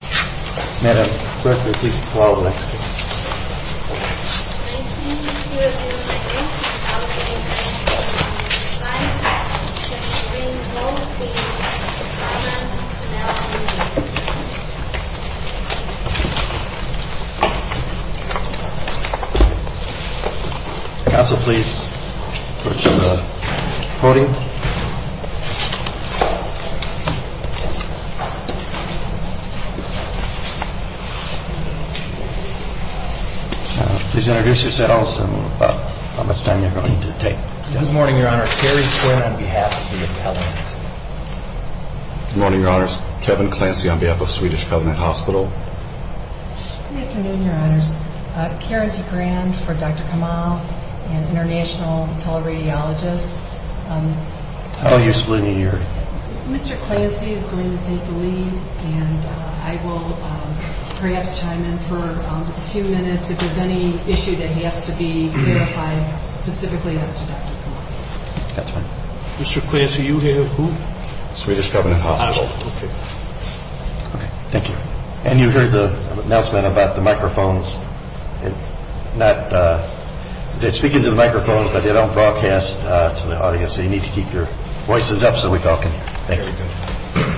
May I personally keep the flower there? May I also please show the podium? Is there a visit to the house? Good morning, your honor. Good morning, your honors. Kevin Clancy on behalf of Swedish Covenant Hospital. Good afternoon, your honors. Karen DeGrande for Dr. Kamal, an international teleradiologist. How do you explain your... Mr. Clancy is going to take the lead and I will perhaps chime in for a few minutes if there is any issue that has to be clarified specifically at this point. Mr. Clancy, you have who? Swedish Covenant Hospital. Thank you. And you heard the announcement about the microphones. They speak into the microphones but they don't broadcast to the audience so you need to keep your voices up so we can talk. Thank you.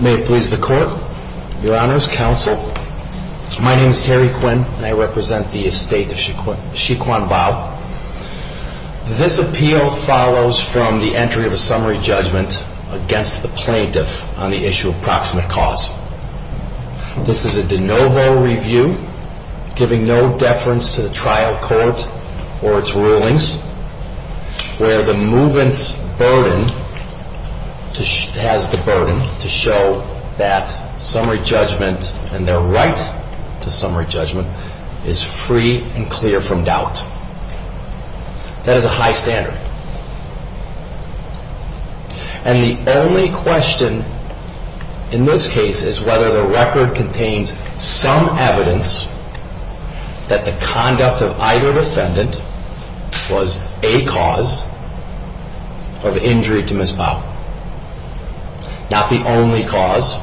May it please the court, your honors, counsel. My name is Harry Quinn and I represent the estate of Xi Quan Bao. This appeal follows from the entry of a summary judgment against the plaintiff on the issue of proximate cause. This is a de novo review giving no deference to the trial court or its rulings where the movement's burden has the burden to show that summary judgment and their right to summary judgment is free and clear from doubt. That is a high standard. And the only question in this case is whether the record contains some evidence that the conduct of either defendant was a cause of injury to Ms. Bao. Not the only cause,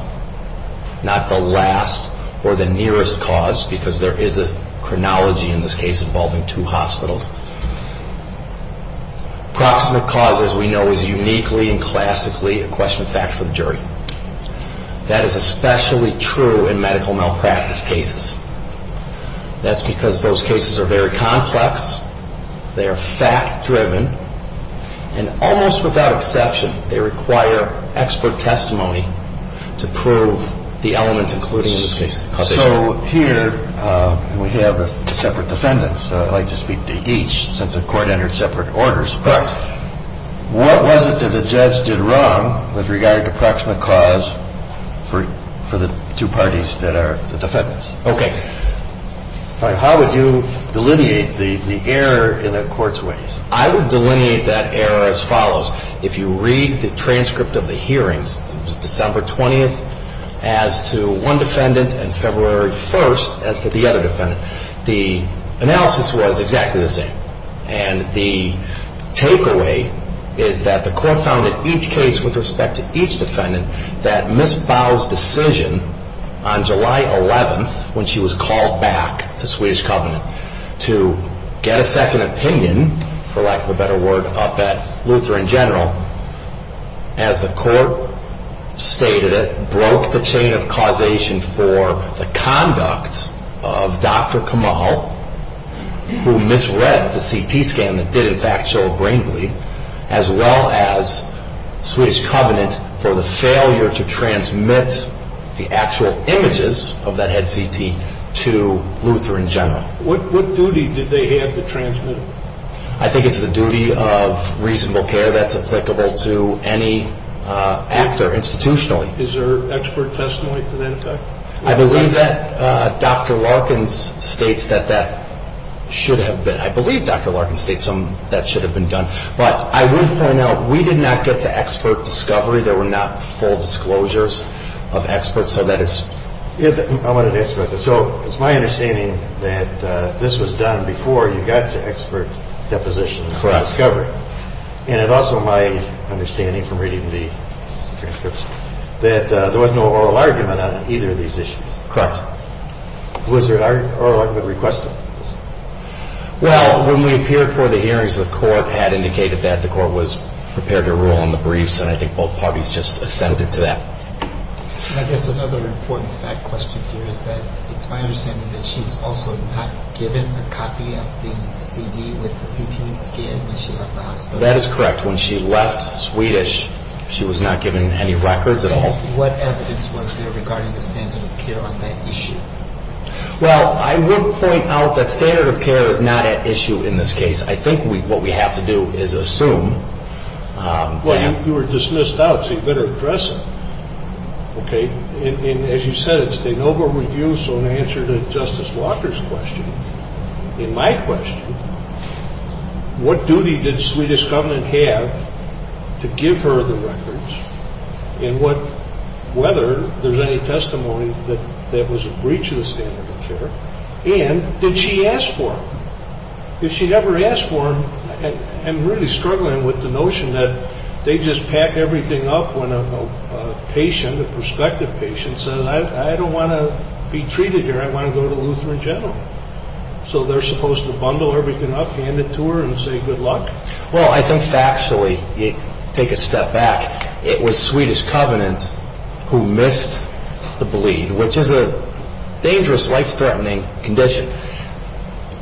not the last or the nearest cause because there is a chronology in this case involving two hospitals. Proximate cause, as we know, is uniquely and classically a question of factual injury. That is especially true in medical malpractice cases. That's because those cases are very complex. They are fact-driven. And almost without exception, they require expert testimony to prove the element including these cases. So here we have separate defendants. I'd like to speak to each since the court entered separate orders. Correct. What was it that the judge did wrong with regard to proximate cause for the two parties that are the defendants? Okay. How would you delineate the error in the court's ways? I would delineate that error as follows. If you read the transcript of the hearings, December 20th as to one defendant and February 1st as to the other defendant, the analysis was exactly the same. And the takeaway is that the court found in each case with respect to each defendant that Ms. Bowe's decision on July 11th when she was called back to Swedish Covenant to get a second opinion, for lack of a better word, up at Lutheran General, as the court stated it, broke the chain of causation for the conduct of Dr. Kamal, who misread the CT scan that did in fact show a brain bleed, as well as Swedish Covenant for the failure to transmit the actual images of that head CT to Lutheran General. What duty did they have to transmit it? I think it's the duty of reasonable care that's applicable to any actor institutionally. Is there expert testimony to that effect? I believe that Dr. Larkin states that that should have been. I believe Dr. Larkin states that that should have been done. But I would point out, we did not get to expert discovery. There were not full disclosures of experts. So it's my understanding that this was done before you got to expert depositions for discovery. And it's also my understanding from reading the experts that there was no oral argument on either of these issues. Was there an oral argument requested? Well, when we appeared for the hearings, the court had indicated that the court was prepared to rule on the briefs, and I think both parties just assented to that. Another important fact question here is that it's my understanding that she was also not given a copy of the CD that she was given when she left the hospital. That is correct. When she left, Swedish, she was not given any records at all. What evidence was there regarding the standard of care on that issue? Well, I would point out that standard of care is not at issue in this case. I think what we have to do is assume. Well, you were dismissed out, so you better address it. As you said, it's been over-reviewed, so in answer to Justice Walker's question, in my question, what duty did Swedish Government have to give her the records, and whether there's any testimony that that was a breach of the standard of care, and did she ask for it? If she ever asked for them, I'm really struggling with the notion that they just pat everything up when a patient, a prospective patient, says, I don't want to be treated here, I want to go to the Lutheran General. So they're supposed to bundle everything up, hand it to her, and say good luck? Well, I think factually, take a step back, it was Swedish Covenant who missed the bleed, which is a dangerous, life-threatening condition.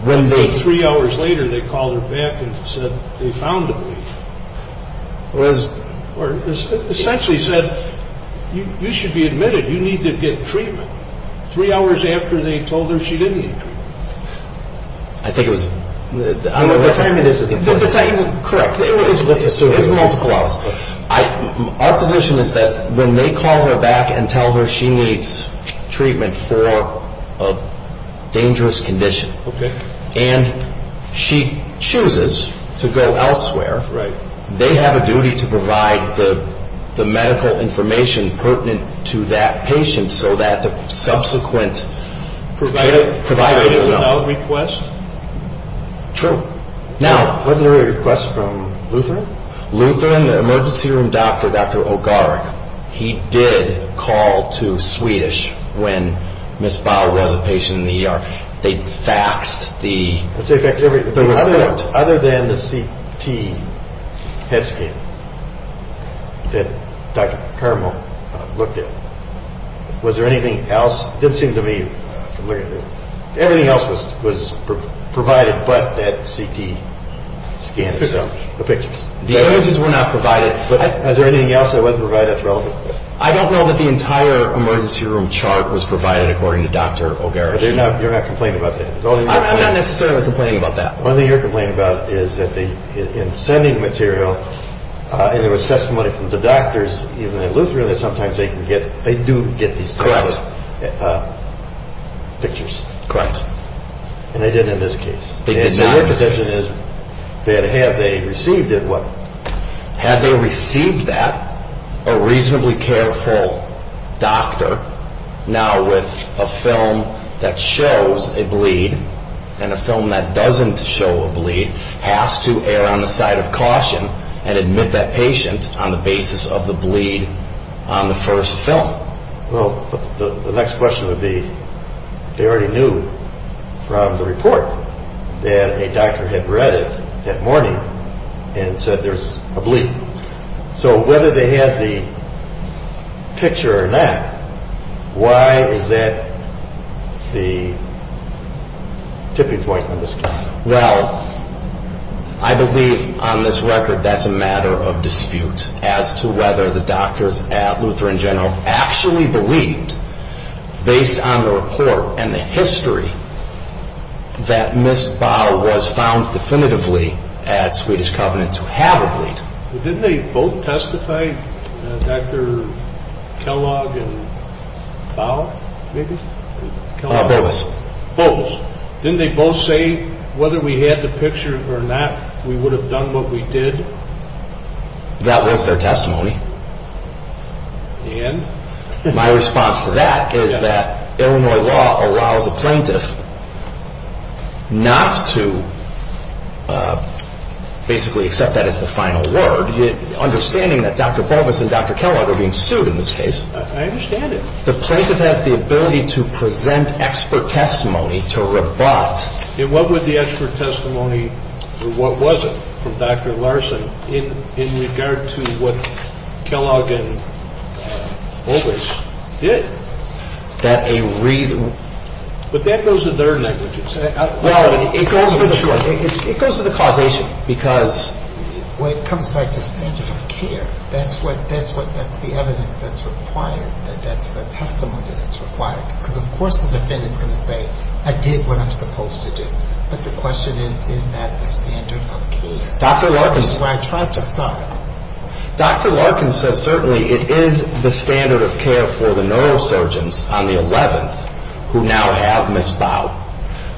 Three hours later, they called her back and said they found the bleed. Or essentially said, you should be admitted, you need to get treatment. Three hours after, they told her she didn't need treatment. I think it was... Our position is that when they call her back and tell her she needs treatment for a dangerous condition, and she chooses to go elsewhere, they have a duty to provide the medical information pertinent to that patient, so that the subsequent... Providing a valid request? True. Now... Wasn't there a request from Lutheran? Lutheran, the emergency room doctor, Dr. Ogark, he did call to Swedish when Ms. Bauer was a patient in the ER. They faxed the... Other than the CT test sheet that Dr. Caramel looked at, was there anything else? It didn't seem to me. Everything else was provided but that CT scan. The images were not provided, but was there anything else that wasn't provided? I don't know that the entire emergency room chart was provided according to Dr. Ogark. You're not complaining about that? I'm not necessarily complaining about that. One thing you're complaining about is that in sending material, and there was testimony from the doctors, even in Lutheran, I feel that sometimes they do get these... Correct. Pictures. Correct. And they did in this case. Because their position is that had they received it, what? Had they received that, a reasonably careful doctor, now with a film that shows a bleed, and a film that doesn't show a bleed, has to err on the side of caution, and admit that patient on the basis of the bleed on the first film. Well, the next question would be, they already knew from the report that a doctor had read it that morning and said there's a bleed. So whether they had the picture or not, why is that the tipping point in this case? Well, I believe on this record that's a matter of dispute as to whether the doctors at Lutheran General actually believed, based on the report and the history, that Ms. Bau was found definitively at Swedish Covenant to have a bleed. Did they both testify? Dr. Kellogg and Bau, I guess? Both. Both. Didn't they both say whether we had the picture or not, we would have done what we did? That was their testimony. And? My response to that is that Illinois law allows a plaintiff not to basically accept that as the final word, understanding that Dr. Bau and Dr. Kellogg are being sued in this case. I understand it. The plaintiff had the ability to present expert testimony to rebut. And what would the expert testimony, or what was it, from Dr. Larson, in regard to what Kellogg and Bowers did? That a reason... But that goes to their language. Well, it goes to the court, because... Well, it comes back to standard of care. That's what the evidence that's required, the testimony that's required. Because, of course, the defendant can say, I did what I was supposed to do. But the question is, is that the standard of care? Dr. Larkin... That's what I tried to find. Dr. Larkin said, certainly, it is the standard of care for the neurosurgeons on the 11th, who now have Ms. Bau,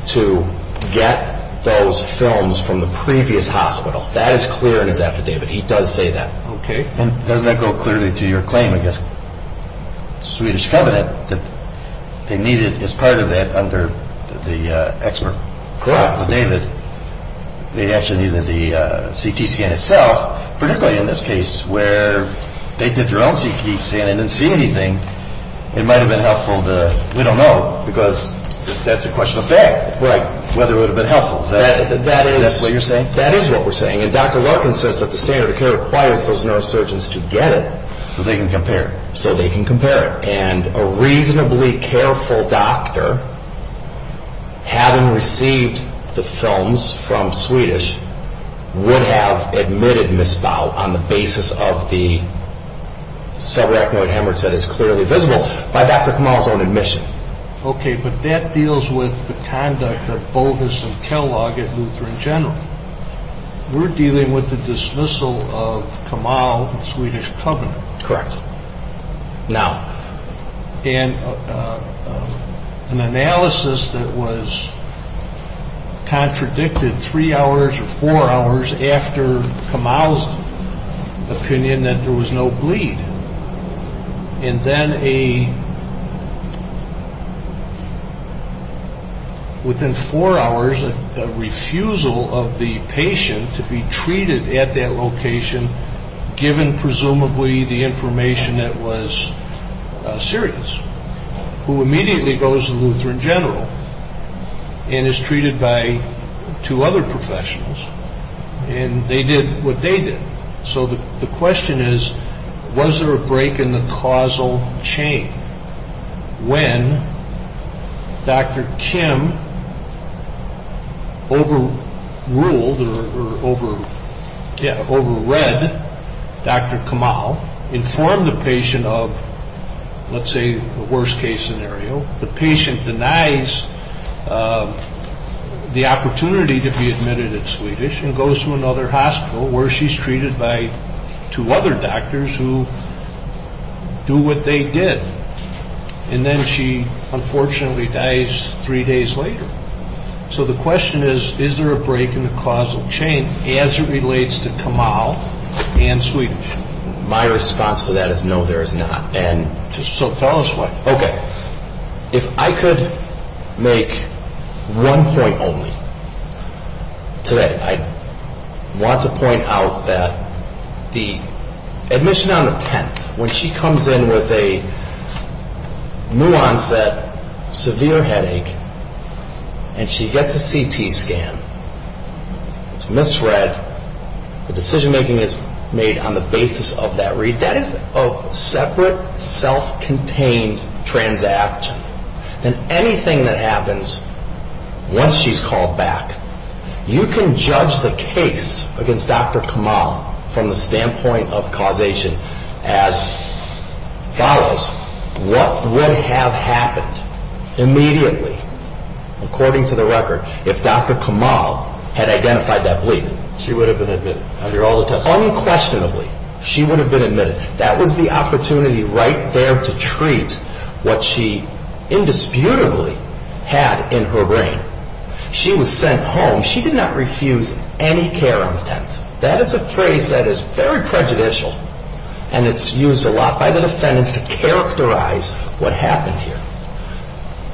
to get those films from the previous hospital. That is clear in his affidavit. He does say that. Okay. And doesn't that go clearly to your claim, I guess, Swedish Covenant, that they needed, as part of that, under the expert court affidavit, they actually needed the CT scan itself, particularly in this case where they did their own CT scan and didn't see anything. It might have been helpful to... We don't know, because that's a question of fact. Right. Whether it would have been helpful. That's what you're saying? That is what we're saying. And Dr. Larkin says that the standard of care requires those neurosurgeons to get it, so they can compare it. So they can compare it. And a reasonably careful doctor, having received the films from Swedish, would have admitted Ms. Bau on the basis of the subarachnoid hemorrhage that is clearly visible by Dr. Kamal's own admission. Okay. But that deals with the conduct at Boulders and Kellogg at Lutheran General. We're dealing with the dismissal of Kamal of Swedish Covenant. Correct. Now, an analysis that was contradicted three hours or four hours after Kamal's opinion that there was no bleed. And then within four hours, a refusal of the patient to be treated at that location, given presumably the information that was serious, who immediately goes to Lutheran General and is treated by two other professionals. And they did what they did. So the question is, was there a break in the causal chain when Dr. Kim overruled or overread Dr. Kamal, informed the patient of, let's say, a worst-case scenario. The patient denies the opportunity to be admitted at Swedish and goes to another hospital where she's treated by two other doctors who do what they did. And then she unfortunately dies three days later. So the question is, is there a break in the causal chain as it relates to Kamal and Swedish? My response to that is no, there is not. Okay. If I could make one point only today. I want to point out that the admission on the 10th, when she comes in with a new-onset severe headache and she gets a CT scan, it's misread, the decision-making is made on the basis of that read. If that is a separate, self-contained transaction, then anything that happens once she's called back, you can judge the case against Dr. Kamal from the standpoint of causation as follows. What would have happened immediately, according to the record, if Dr. Kamal had identified that bleed? She would have been admitted. Unquestionably, she would have been admitted. That was the opportunity right there to treat what she indisputably had in her brain. She was sent home. She did not refuse any care on the 10th. That is a phrase that is very prejudicial, and it's used a lot by the defendants to characterize what happened here.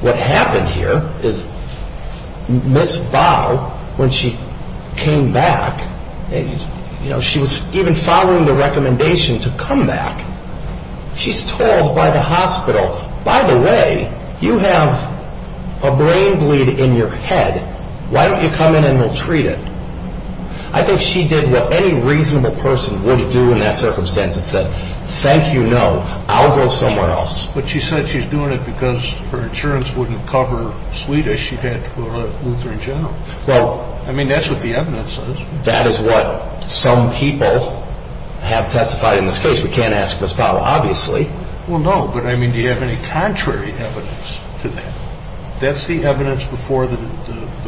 What happened here is Ms. Bow, when she came back, she was even following the recommendation to come back. She's told by the hospital, by the way, you have a brain bleed in your head. Why don't you come in and we'll treat it? I think she did what any reasonable person would do in that circumstance and said, thank you, no, I'll go somewhere else. But she said she's doing it because her insurance wouldn't cover Swedish. She'd have to go to the Lutheran General. I mean, that's what the evidence says. That is what some people have testified in this case. We can't ask Ms. Bow, obviously. Well, no, but I mean, do you have any contrary evidence to that? That's the evidence before the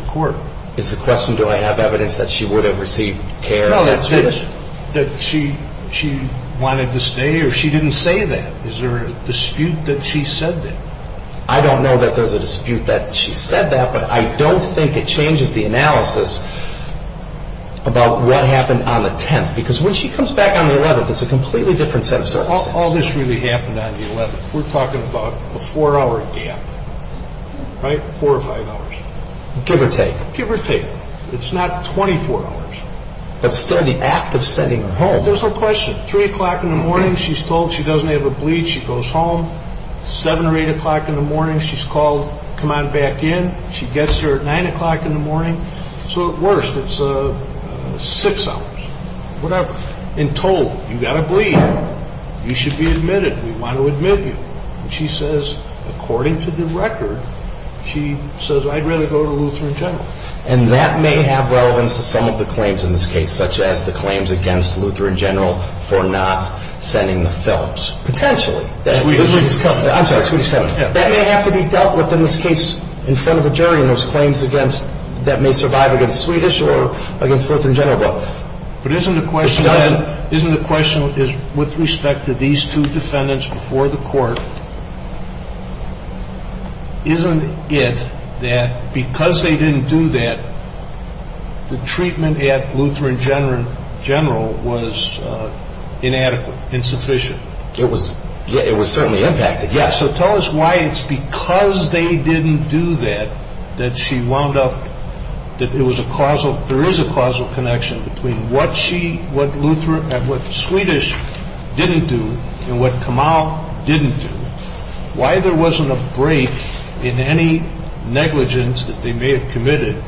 court. It's a question, do I have evidence that she would have received care? No, that she wanted to stay or she didn't say that. Is there a dispute that she said that? I don't know that there's a dispute that she said that, but I don't think it changes the analysis about what happened on the 10th. Because when she comes back on the 11th, it's a completely different circumstance. All this really happened on the 11th. We're talking about a four-hour gap, right, four or five hours. Give or take. Give or take. It's not 24 hours. But still, the act of sending her home. There's no question. Three o'clock in the morning, she's told she doesn't have a bleed. She goes home. Seven or eight o'clock in the morning, she's called to come on back in. She gets here at nine o'clock in the morning. So at worst, it's six hours, whatever. And told, you've got a bleed. You should be admitted. We want to admit you. She says, according to the record, she says, I'd rather go to Lutheran General. And that may have relevance to some of the claims in this case, such as the claims against Lutheran General for not sending the fellows. Potentially. That may have to be dealt with in this case in front of a jury and those claims that may survive against Swedish or against Lutheran General both. But isn't the question with respect to these two defendants before the court, isn't it that because they didn't do that, the treatment at Lutheran General was inadequate, insufficient? It was certainly impacted. Yes. So tell us why it's because they didn't do that that she wound up, that there is a causal connection between what Swedish didn't do and what Kamau didn't do. Why there wasn't a break in any negligence that they may have committed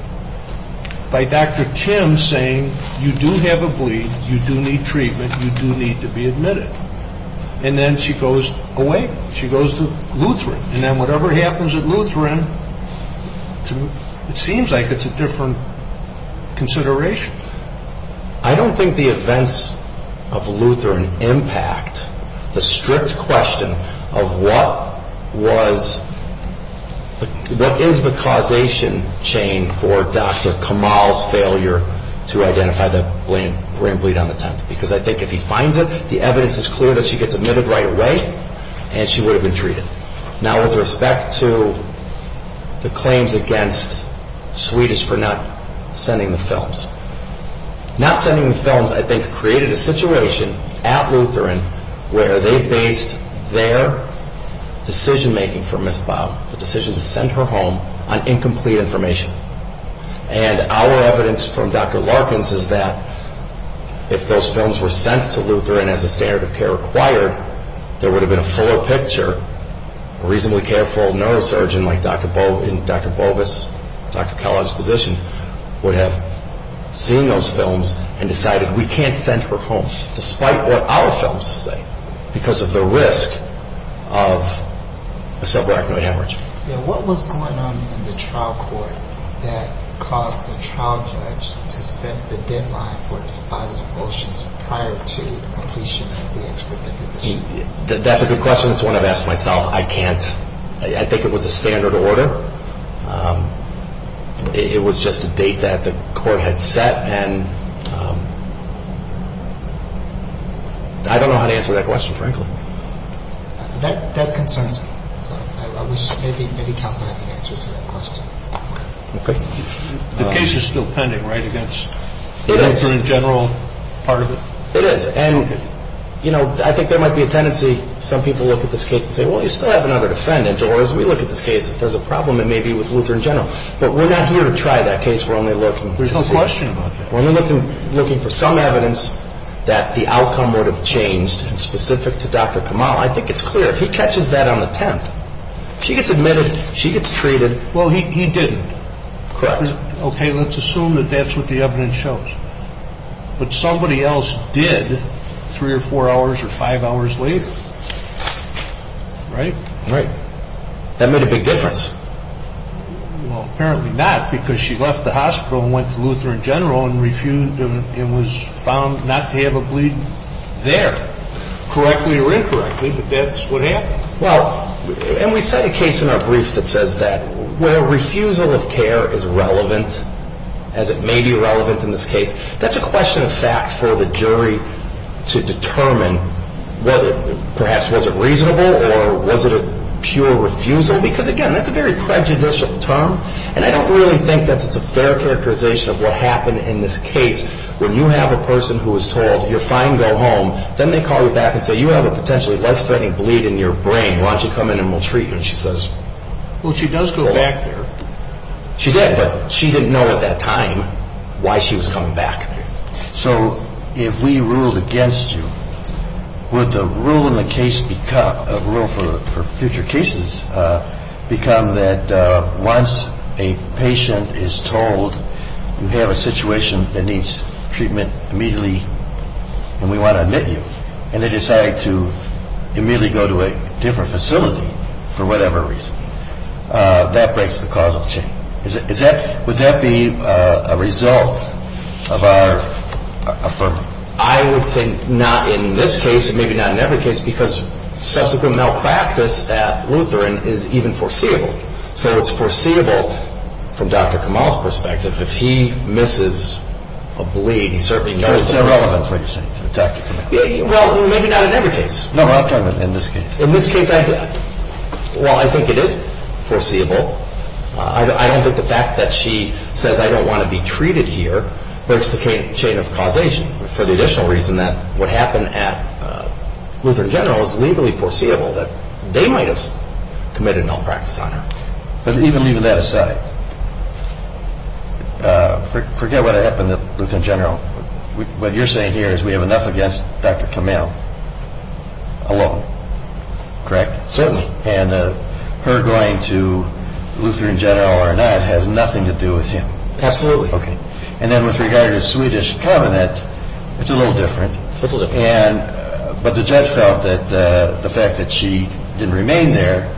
by Dr. Kim saying, you do have a bleed, you do need treatment, you do need to be admitted. And then she goes away. She goes to Lutheran. And then whatever happens at Lutheran, it seems like it's a different consideration. I don't think the events of Lutheran impact the strict question of what was, what is the causation chain for Dr. Kamau's failure to identify the brain bleed on the temple. Because I think if he finds it, the evidence is clear that she gets admitted right away and she would have been treated. Now with respect to the claims against Swedish for not sending the films. Not sending the films, I think, created a situation at Lutheran where they based their decision-making for Ms. Baum, the decision to send her home, on incomplete information. And our evidence from Dr. Larkins is that if those films were sent to Lutheran as a standard of care required, there would have been a fuller picture. A reasonably careful neurosurgeon like Dr. Bogus, Dr. Kala's physician, would have seen those films and decided we can't send her home despite what our films say because of the risk of a subarachnoid hemorrhage. What was going on in the trial court that caused the trial judge to set the deadline for filing a motion prior to a police investigation? That's a good question. It's one I've asked myself. I can't, I think it was a standard order. It was just a date that the court had set and I don't know how to answer that question, frankly. That concerns me. I wish maybe Tom could answer that question. Okay. The case is still pending, right, against Lutheran General? It is. And, you know, I think there might be a tendency, some people look at this case and say, well, you still have another defendant, or as we look at this case, if there's a problem, it may be with Lutheran General. But we're not here to try that case while they're looking. There's no question about that. When you're looking for some evidence that the outcome would have changed, and specific to Dr. Kamal, I think it's clear. He catches that on the 10th. She gets admitted, she gets treated. Well, he didn't. Correct. Okay, let's assume that that's what the evidence shows. But somebody else did three or four hours or five hours later. Right? Right. That made a big difference. Well, apparently not, because she left the hospital and went to Lutheran General and was found not to have a bleed there. Correctly or incorrectly, but that's what happened. Well, and we say a case in our briefs that says that. Where refusal of care is relevant, as it may be relevant in this case, that's a question of fact for the jury to determine whether perhaps was it reasonable or was it a pure refusal. Because, again, that's a very prejudicial term, and I don't really think that it's a fair characterization of what happened in this case when you have a person who was told, you're fine, go home. Then they call you back and say, you have a potentially life-threatening bleed in your brain. Why don't you come in and we'll treat you? And she says, well, she does go back there. She did, but she didn't know at that time why she was coming back. So if we ruled against you, would the rule in the case become, a rule for future cases, become that once a patient is told you have a situation that needs treatment immediately and we want to admit you, and they decide to immediately go to a different facility for whatever reason, that breaks the causal chain. Would that be a result of our affirming? I would think not in this case and maybe not in any other case, because subsequent malpractice at Lutheran is even foreseeable. So it's foreseeable from Dr. Kamal's perspective if he misses a bleed. There's no relevance, what you're saying. Well, maybe not in any case. No, not in this case. In this case, I think it is foreseeable. I don't think the fact that she says, I don't want to be treated here, that's the chain of causation for the additional reason that what happened at Lutheran General is legally foreseeable, that they might have committed malpractice on her. But even that aside, forget what happened at Lutheran General. What you're saying here is we have enough against Dr. Kamal alone, correct? Certainly. And her going to Lutheran General or not has nothing to do with him. Absolutely. Okay. And then with regard to the Swedish covenant, it's a little different. It's a little different. But the judge felt that the fact that she didn't remain there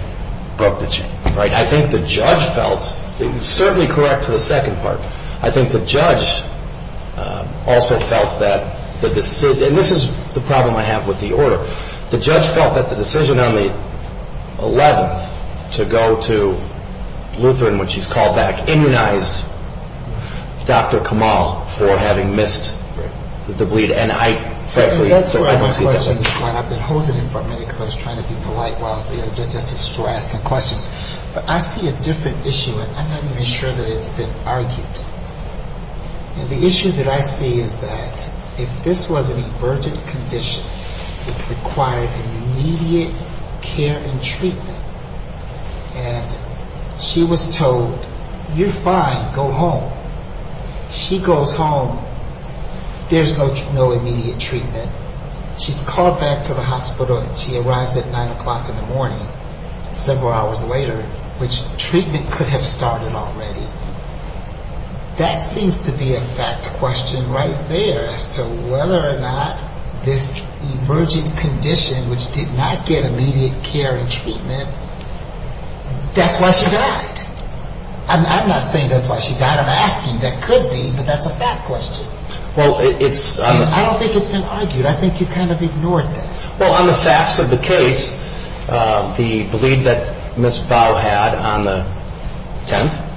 broke the chain. I think the judge felt, it's certainly correct to the second part, I think the judge also felt that, and this is the problem I have with the order, the judge felt that the decision on the 11th to go to Lutheran when she's called back immunized Dr. Kamal for having missed the bleed. And I frankly, I must keep that in mind. I've been holding it in front of me because I was trying to be polite. Well, that's a sporadic question. But I see a different issue, and I'm not even sure that it's been argued. And the issue that I see is that if this was an emergent condition, it required immediate care and treatment. And she was told, you're fine, go home. She goes home, there's no immediate treatment. She's called back to the hospital and she arrives at 9 o'clock in the morning, several hours later, which treatment could have started already. That seems to be a fact question right there as to whether or not this emergent condition, which did not get immediate care and treatment, that's why she got it. I'm not saying that's why she got it. I'm asking, that could be, but that's a fact question. I don't think it's been argued. I think you kind of ignored it. Well, on the facts of the case, the bleed that Ms. Bowe had on the 10th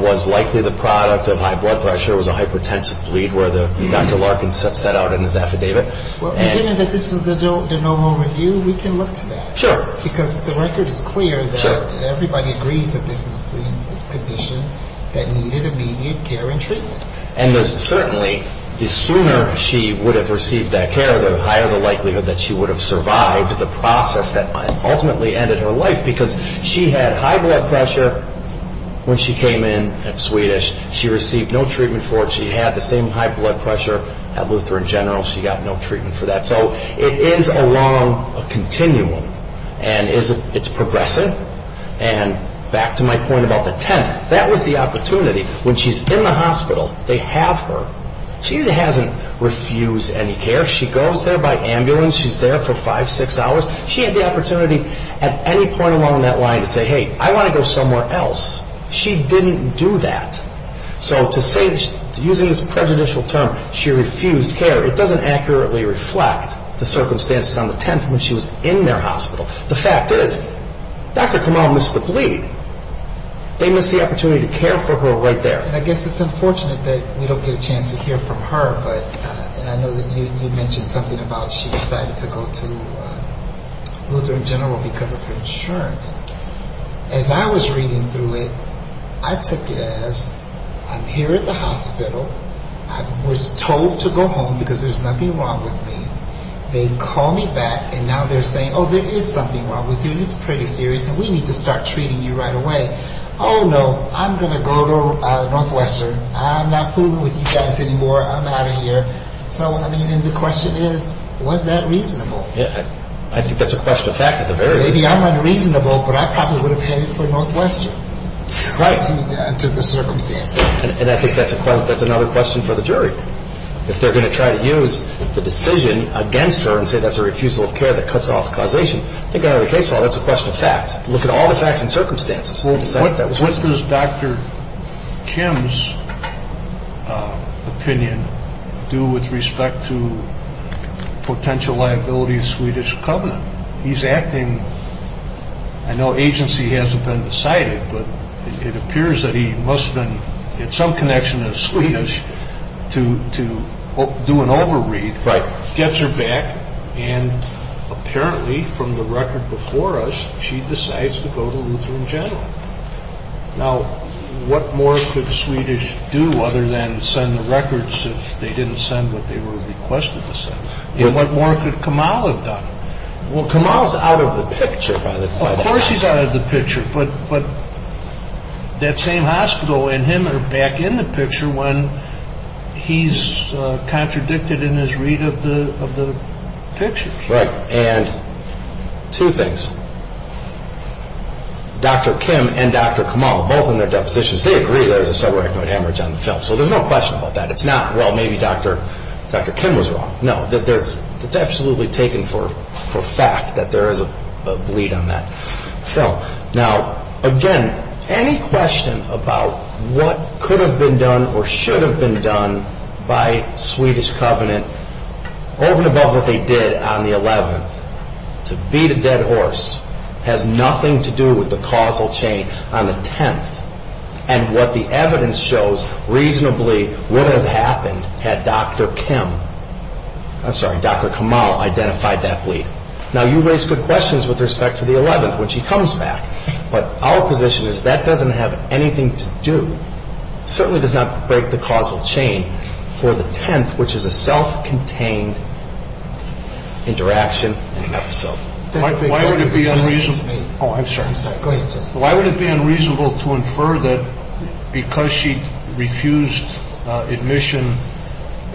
was likely the product of high blood pressure. It was a hypertensive bleed where Dr. Larkin set out in his affidavit. Well, given that this is the normal review, we can look at that. Sure. Because the record is clear that everybody agreed to this condition that needed immediate care and treatment. And certainly, the sooner she would have received that care, the higher the likelihood that she would have survived the process that ultimately ended her life. Because she had high blood pressure when she came in at Swedish. She received no treatment for it. She had the same high blood pressure at Lutheran General. She got no treatment for that. So it is along a continuum. And it's progressive. And back to my point about the 10th, that was the opportunity. When she's in the hospital, they have her. She hasn't refused any care. She goes there by ambulance. She's there for five, six hours. She had the opportunity at any point along that line to say, hey, I want to go somewhere else. She didn't do that. So to say, using this prejudicial term, she refused care, it doesn't accurately reflect the circumstances on the 10th when she was in their hospital. The fact is, Dr. Kamal missed the bleed. They missed the opportunity to care for her right there. I guess it's unfortunate that we don't get a chance to hear from her. But I know that you mentioned something about she decided to go to Lutheran General because of her insurance. As I was reading through it, I could guess, I'm here at the hospital. I was told to go home because there's nothing wrong with me. They call me back, and now they're saying, oh, there is something wrong with you. It's pretty serious, and we need to start treating you right away. Oh, no, I'm going to go to Northwestern. I'm not fooling with you guys anymore. I'm out of here. So, I mean, the question is, was that reasonable? Yes, I think that's a question of fact in the very least. Maybe I'm unreasonable, but I probably would have cared to go to Northwestern. Right. I took the sermon again. And I think that's another question for the jury. If they're going to try to use the decision against her and say that's a refusal of care that cuts off causation, I think out of the case law that's a question of fact. Look at all the facts and circumstances. What does Dr. Kim's opinion do with respect to potential liability of Swedish covenant? He's acting, I know agency hasn't been decided, but it appears that he must have been in some connection with the Swedish to do an overread, gets her back, and apparently from the record before us, she decides to go to Lutheran General. Now, what more could Swedish do other than send the records that they didn't send, that they were requested to send? What more could Kamal have done? Well, Kamal's out of the picture, by the way. Of course he's out of the picture, but that same hospital and him are back in the picture when he's contradicted in his read of the picture. Right. And two things, Dr. Kim and Dr. Kamal, both in their depositions, they agree there's a subarachnoid hemorrhage on the film. So there's no question about that. It's not, well, maybe Dr. Kim was wrong. No, it's absolutely taken for fact that there is a bleed on that film. Now, again, any question about what could have been done or should have been done by Swedish Covenant, over and above what they did on the 11th, to beat a dead horse, has nothing to do with the causal chain on the 10th. And what the evidence shows reasonably would have happened had Dr. Kim, I'm sorry, Dr. Kamal identified that bleed. Now, you raised the questions with respect to the 11th, when she comes back. But our position is that doesn't have anything to do, certainly does not break the causal chain, for the 10th, which is a self-contained interaction. Why would it be unreasonable to infer that because she refused admission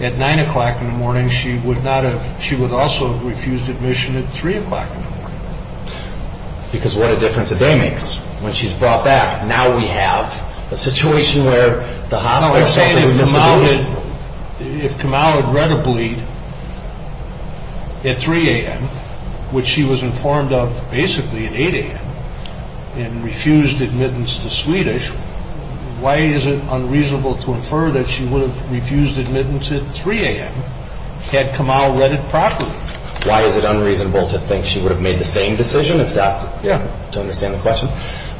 at 9 o'clock in the morning, she would also have refused admission at 3 o'clock in the morning? Because what a difference a day makes, when she's brought back. Now we have a situation where the Hanau has come out of bed at 3 a.m., which she was informed of basically at 8 a.m., and refused admittance to Swedish. Why is it unreasonable to infer that she would have refused admittance at 3 a.m. had Kamal read it properly? Why is it unreasonable to think she would have made the same decision? In fact, to understand the question,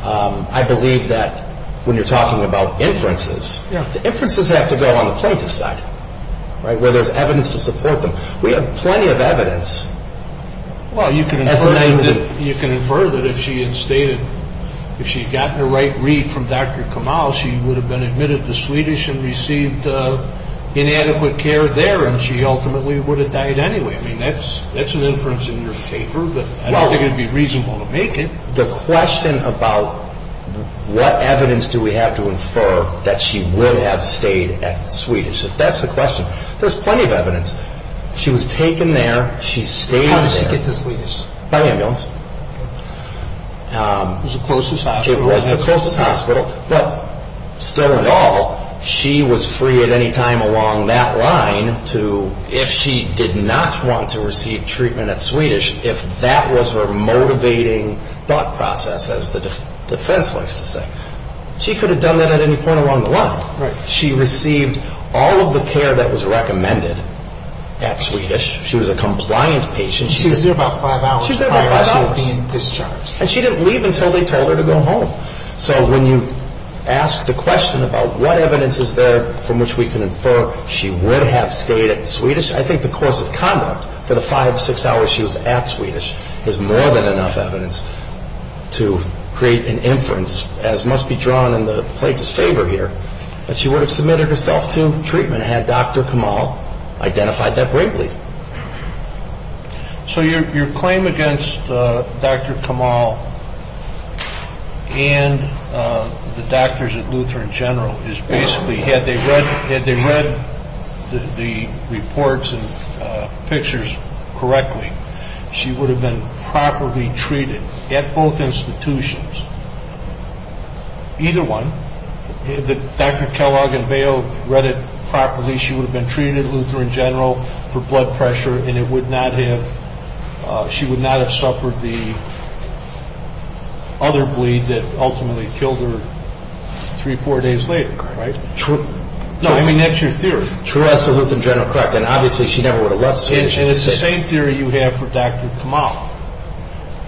I believe that when you're talking about inferences, the inferences have to go on the plaintiff's side, where there's evidence to support them. We have plenty of evidence. You can infer that if she had gotten the right read from Dr. Kamal, she would have been admitted to Swedish and received inadequate care there, and she ultimately would have died anyway. That's an inference in your favor, but I don't think it would be reasonable to make it. The question about what evidence do we have to infer that she would have stayed at Swedish, that's the question. There's plenty of evidence. She was taken there, she stayed there. How did she get to Swedish? By ambulance. It was the closest hospital. It was the closest hospital, but still in all, she was free at any time along that line to, if she did not want to receive treatment at Swedish, if that was her motivating thought process, as the defense likes to say, she could have done that at any point along the line. Right. She received all of the care that was recommended at Swedish. She was a compliant patient. She was there about five hours. She was there about five hours. She would be discharged. And she didn't leave until they told her to go home. So when you ask the question about what evidence is there from which we can infer she would have stayed at Swedish, I think the course of conduct for the five to six hours she was at Swedish is more than enough evidence to create an inference as must be drawn in the plaintiff's favor here that she would have submitted herself to treatment had Dr. Kamal identified that briefly. So your claim against Dr. Kamal and the doctors at Lutheran General is basically had they read the reports and pictures correctly, she would have been properly treated at both institutions. Either one. If Dr. Kellogg and Mayo read it properly, she would have been treated at Lutheran General for blood pressure and she would not have suffered the other bleed that ultimately killed her three, four days later. Right. No, I mean, that's your theory. True. That's the Lutheran General practice. Obviously, she never would have left Swedish. And it's the same theory you have for Dr. Kamal.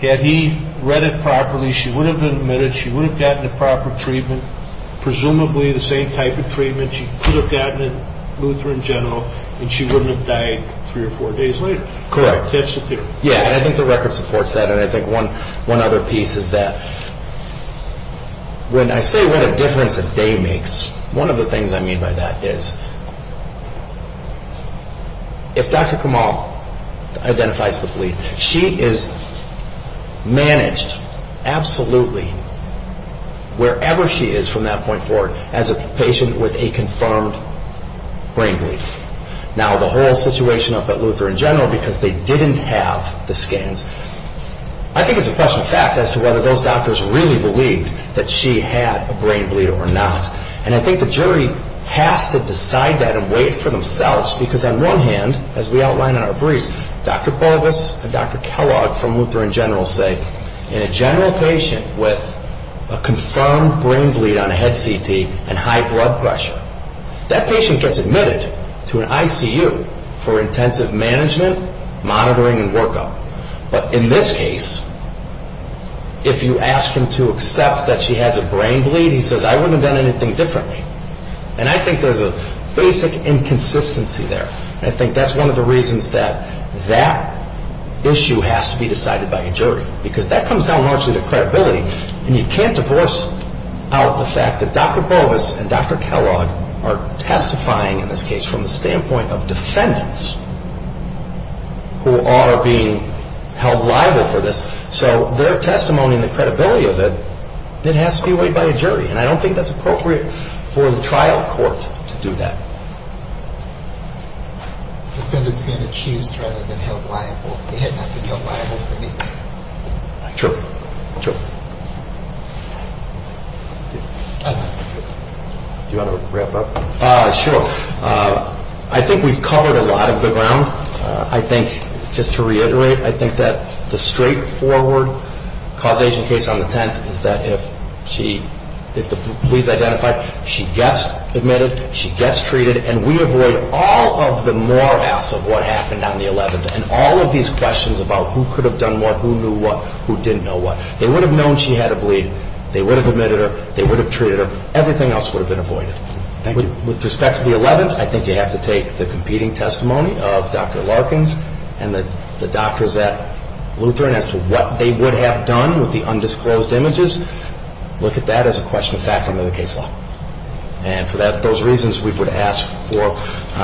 Had he read it properly, she would have been admitted, she would have gotten the proper treatment, presumably the same type of treatment she could have gotten at Lutheran General and she wouldn't have died three or four days later. Correct. That's the theory. Yeah, and I think the record supports that. And I think one other piece is that when I say what a difference a day makes, one of the things I mean by that is if Dr. Kamal identifies the bleed, she is managed absolutely, wherever she is from that point forward, as a patient with a confirmed brain bleed. Now, the whole situation up at Lutheran General, because they didn't have the scans, I think it's a question of fact as to whether those doctors really believed that she had a brain bleed or not. And I think the jury has to decide that and weigh it for themselves, because on one hand, as we outlined in our brief, Dr. Paulus and Dr. Kellogg from Lutheran General say, in a general patient with a confirmed brain bleed on a head CT and high blood pressure, that patient gets admitted to an ICU for intensive management, monitoring, and workup. But in this case, if you ask him to accept that she has a brain bleed, he says, I wouldn't have done anything differently. And I think there's a basic inconsistency there, and I think that's one of the reasons that that issue has to be decided by a jury, because that comes down largely to credibility, and you can't diverse out the fact that Dr. Paulus and Dr. Kellogg are testifying in this case from the standpoint of descendants who are being held liable for this. So their testimony and the credibility of it, it has to be weighed by a jury, and I don't think that's appropriate for the trial court to do that. I think we've covered a lot of the ground. I think, just to reiterate, I think that the straightforward causation case on the 10th is that if the bleed's identified, she gets admitted, she gets treated, and we avoid all of the morass of what happened on the 11th and all of these questions about who could have done what, who knew what, who didn't know what. They would have known she had a bleed. They would have admitted her. They would have treated her. Everything else would have been avoided. With respect to the 11th, I think you have to take the competing testimony of Dr. Larkins and the doctors at Lutheran as to what they would have done with the undisclosed images. Look at that as a question of fact under the case law. And for those reasons, we would ask for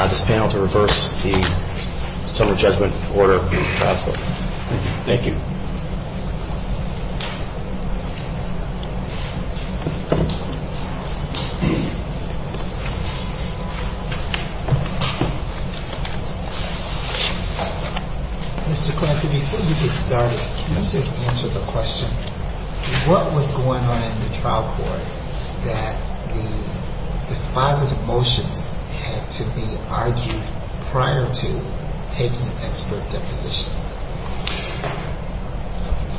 this panel to reverse the sum of judgment order of the trial court. Thank you. Thank you. Mr. Clancy, before we get started, can you just answer the question, what was going on in the trial court that the final motion had to be argued prior to taking the expert deposition?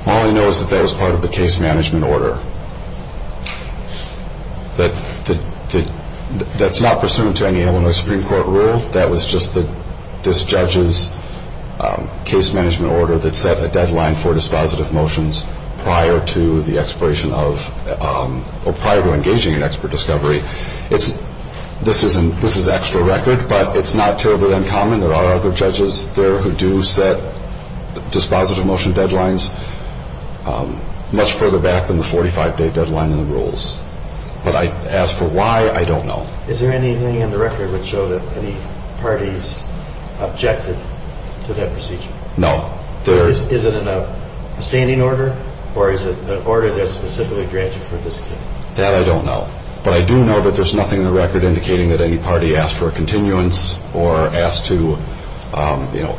Molly knows that that was part of the case management order. That's not pursuant to any Illinois Supreme Court rule. That was just this judge's case management order that set a deadline for dispositive motions prior to engaging in expert discovery. This is extra record, but it's not terribly uncommon. There are other judges there who do set dispositive motion deadlines much further back than the 45-day deadline in the rules. But as for why, I don't know. Is there anything in the record that shows that any party is objective to that procedure? No. Is it a standing order, or is it an order that specifically grants you participation? That I don't know. But I do know that there's nothing in the record indicating that any party asked for a continuance or asked to, you know,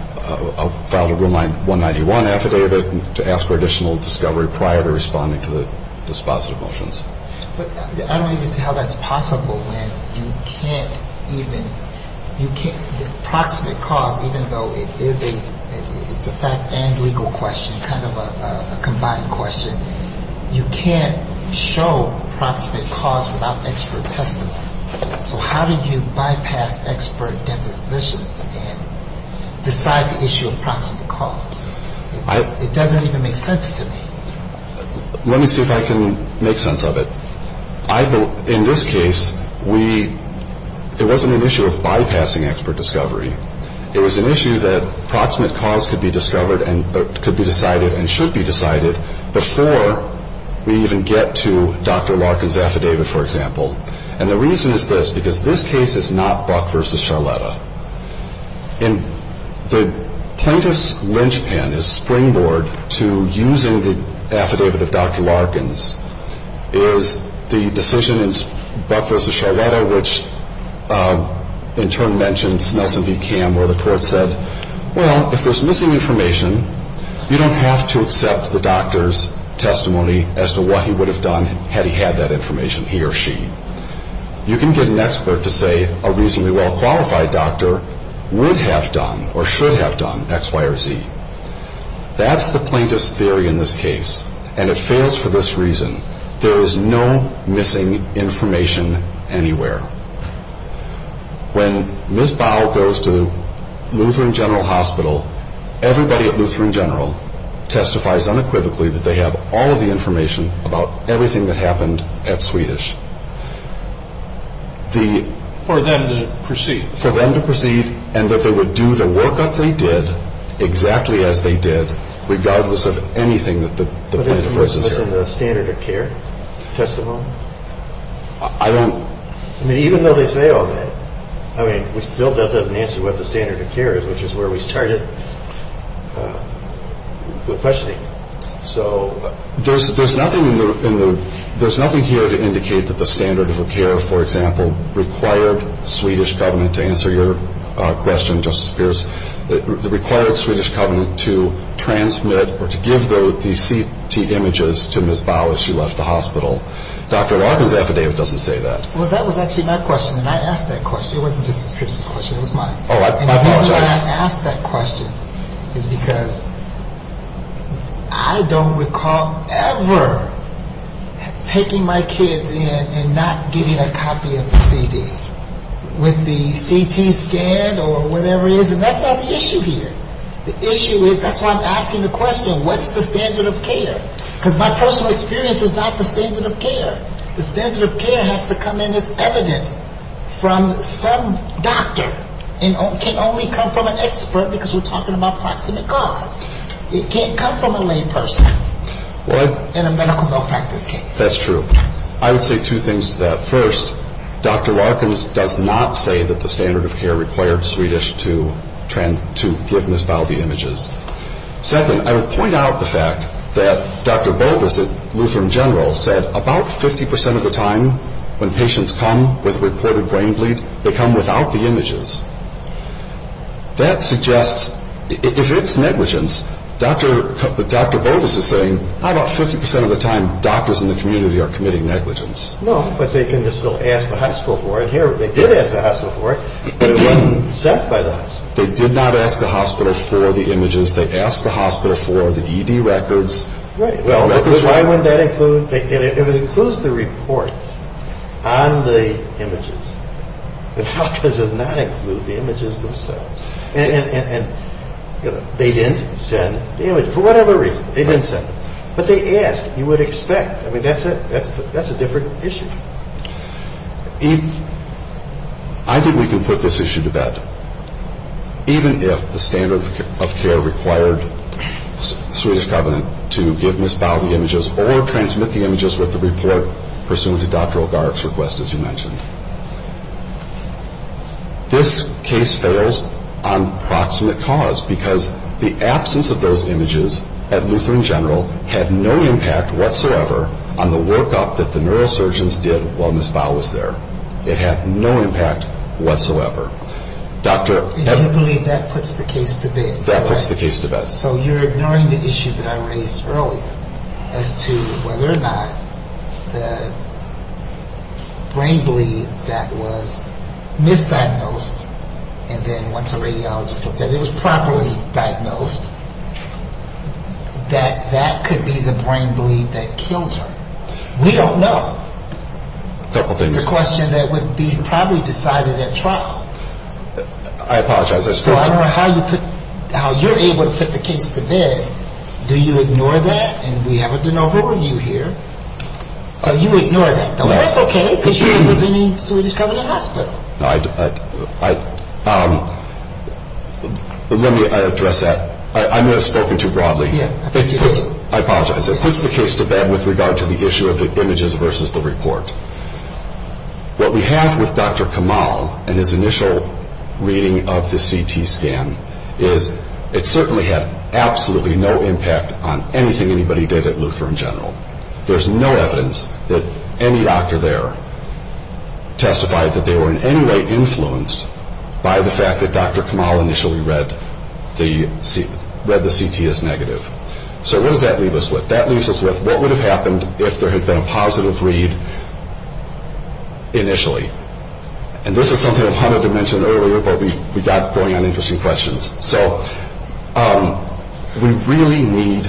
file a Rule 191 affidavit to ask for additional discovery prior to responding to the dispositive motions. I don't even know how that's possible, then. You can't even, you can't, the proximate cause, even though it is a fact and legal question, kind of a combined question, you can't show the proximate cause without an extra claim. So how do you bypass expert definition and decide the issue of proximate cause? It doesn't even make sense to me. Let me see if I can make sense of it. In this case, it wasn't an issue of bypassing expert discovery. It was an issue that proximate cause could be discovered and could be decided and should be decided before we even get to Dr. Larkin's affidavit, for example. And the reason is this, because this case is not Buck v. Charletta. And the plaintiff's linchpin, his springboard to using the affidavit of Dr. Larkin's, is the decision in Buck v. Charletta, which in turn mentions Nelson v. Cam, where the court says, well, if there's missing information, you don't have to accept the doctor's testimony as to what he would have done had he had that information, he or she. You can get an expert to say a reasonably well-qualified doctor would have done or should have done X, Y, or Z. That's the plaintiff's theory in this case, and it fails for this reason. There is no missing information anywhere. When Ms. Bow goes to Lutheran General Hospital, everybody at Lutheran General testifies unequivocally that they have all of the information about everything that happened at Swedish. For them to perceive. For them to perceive, and that they would do the work that they did, exactly as they did, regardless of anything that the plaintiff has to say. But isn't this within the standard of care testimony? I don't. I mean, even though they say all that, I mean, still that doesn't answer what the standard of care is, which is where we started with questioning. So there's nothing here to indicate that the standard of care, for example, required the Swedish government to answer your question, Justice Pierce. It required the Swedish government to transmit or to give the CT images to Ms. Bow as she left the hospital. Dr. Larkin's affidavit doesn't say that. Well, that was actually my question, and I asked that question. It wasn't the plaintiff's question, it was mine. And the reason I asked that question is because I don't recall ever taking my kids in and not getting a copy of the CD with the CT scan or whatever it is, and that's not the issue here. The issue is, that's why I'm asking the question, what's the standard of care? Because my personal experience is not the standard of care. The standard of care has to come in as evidence from some doctor, and it can't only come from an expert because we're talking about proximate cause. It can't come from a lame person in a medical malpractice case. That's true. I would say two things to that. First, Dr. Larkin's does not say that the standard of care required Swedish to give Ms. Bow the images. Second, I would point out the fact that Dr. Boulders at Lutheran General said about 50% of the time when patients come with reported brain bleeds, they come without the images. That suggests, if it's negligence, Dr. Boulders is saying, how about 50% of the time doctors in the community are committing negligence? No, but they can still ask the hospital for it. They did ask the hospital for it, but it wasn't sent by the hospital. They did not ask the hospital for the images. They asked the hospital for the ED records. Right. That's why when that includes, it includes the report on the images. The hospital does not include the images themselves. And they didn't send the images for whatever reason. They didn't send them. But they asked. You would expect. I mean, that's a different issue. I think we can put this issue to bed, even if the standard of care required Swedish Covenant to give Ms. Bow the images or transmit the images with the report pursuant to Dr. O'Garrick's request, as you mentioned. This case fails on proximate cause, because the absence of those images at Lutheran General had no impact whatsoever on the workup that the neurosurgeons did while Ms. Bow was there. It had no impact whatsoever. Do you believe that puts the case to bed? That puts the case to bed. So you're ignoring the issue that I raised earlier as to whether or not the brain belief that was misdiagnosed and then once it was properly diagnosed, that that could be the brain belief that killed her. We don't know. That's a question that would be probably decided at trial. I apologize. I don't know how you're able to put the case to bed. Do you ignore that? And we haven't done a whole review here. So you ignore that. That's okay, because you don't need Swedish Covenant Hospital. Let me address that. I'm going to scope it too broadly. I apologize. It puts the case to bed with regard to the issue of the images versus the report. What we have with Dr. Kamal and his initial reading of the CT scan is it certainly had absolutely no impact on anything anybody did at Lutheran General. There's no evidence that any doctor there testified that they were in any way influenced by the fact that Dr. Kamal initially read the CT as negative. So what does that leave us with? That leaves us with what would have happened if there had been a positive read initially? And this is something that Hunter had mentioned earlier, but we got going on interesting questions. So we really need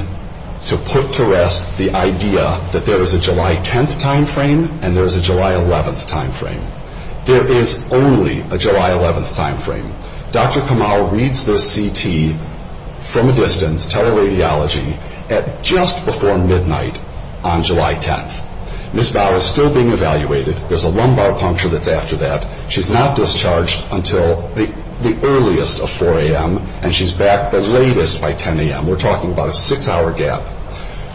to put to rest the idea that there is a July 10th timeframe and there is a July 11th timeframe. There is only a July 11th timeframe. Dr. Kamal reads the CT from a distance, tele-radiology, at just before midnight on July 10th. Ms. Bow is still being evaluated. There's a lumbar puncture that's after that. She's not discharged until the earliest of 4 a.m., and she's back the latest by 10 a.m. We're talking about a six-hour gap.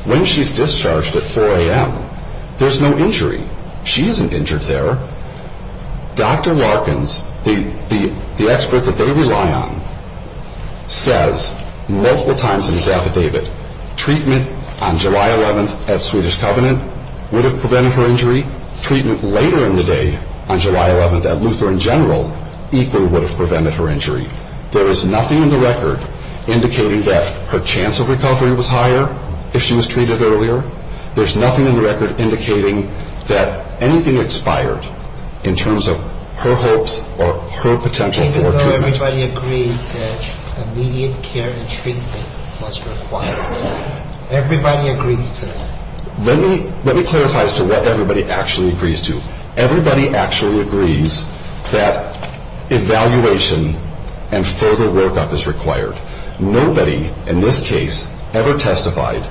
When she's discharged at 4 a.m., there's no injury. She isn't injured there. Dr. Larkins, the expert that they rely on, says multiple times in his affidavit, treatment on July 11th at Swedish Covenant would have prevented her injury. Treatment later in the day on July 11th at Luther in general equally would have prevented her injury. There is nothing in the record indicating that her chance of recovery was higher if she was treated earlier. There's nothing in the record indicating that anything expired in terms of her hopes or her potential for treatment. Everybody agrees that immediate care and treatment must be required. Everybody agrees that. Let me clarify as to what everybody actually agrees to. Everybody actually agrees that evaluation and further workup is required. Nobody in this case ever testified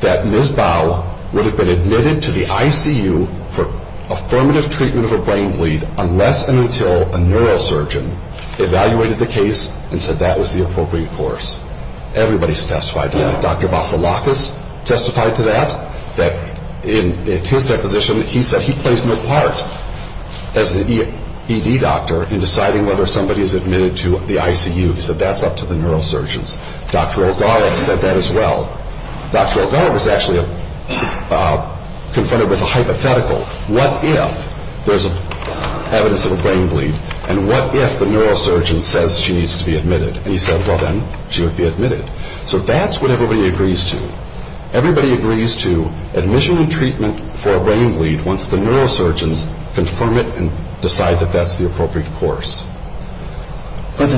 that Ms. Bow would have been admitted to the ICU for affirmative treatment of a brain bleed unless and until a neurosurgeon evaluated the case and said that was the appropriate course. Everybody has testified to that. Dr. Bafalakis testified to that. In his deposition, he says he plays no part as an ED doctor in deciding whether somebody is admitted to the ICU. He said that's up to the neurosurgeons. Dr. O'Donnell said that as well. Dr. O'Donnell was actually confronted with a hypothetical. What if there's evidence of a brain bleed, and what if the neurosurgeon says she needs to be admitted? He said, well, then she would be admitted. So that's what everybody agrees to. Everybody agrees to admission and treatment for a brain bleed once the neurosurgeons confirm it and decide that that's the appropriate course.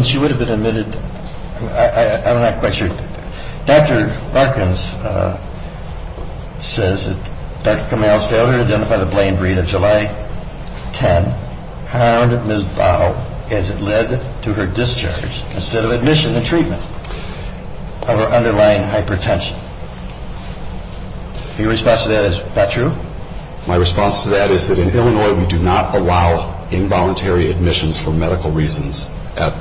She would have been admitted. I'm not quite sure. Dr. Watkins says that Dr. Kamal Stelter identified a brain bleed on July 10. How did Ms. Bowe, has it led to her discharge instead of admission and treatment of her underlying hypertension? Your response to that, is that true? My response to that is that in Illinois, we do not allow involuntary admissions for medical reasons. What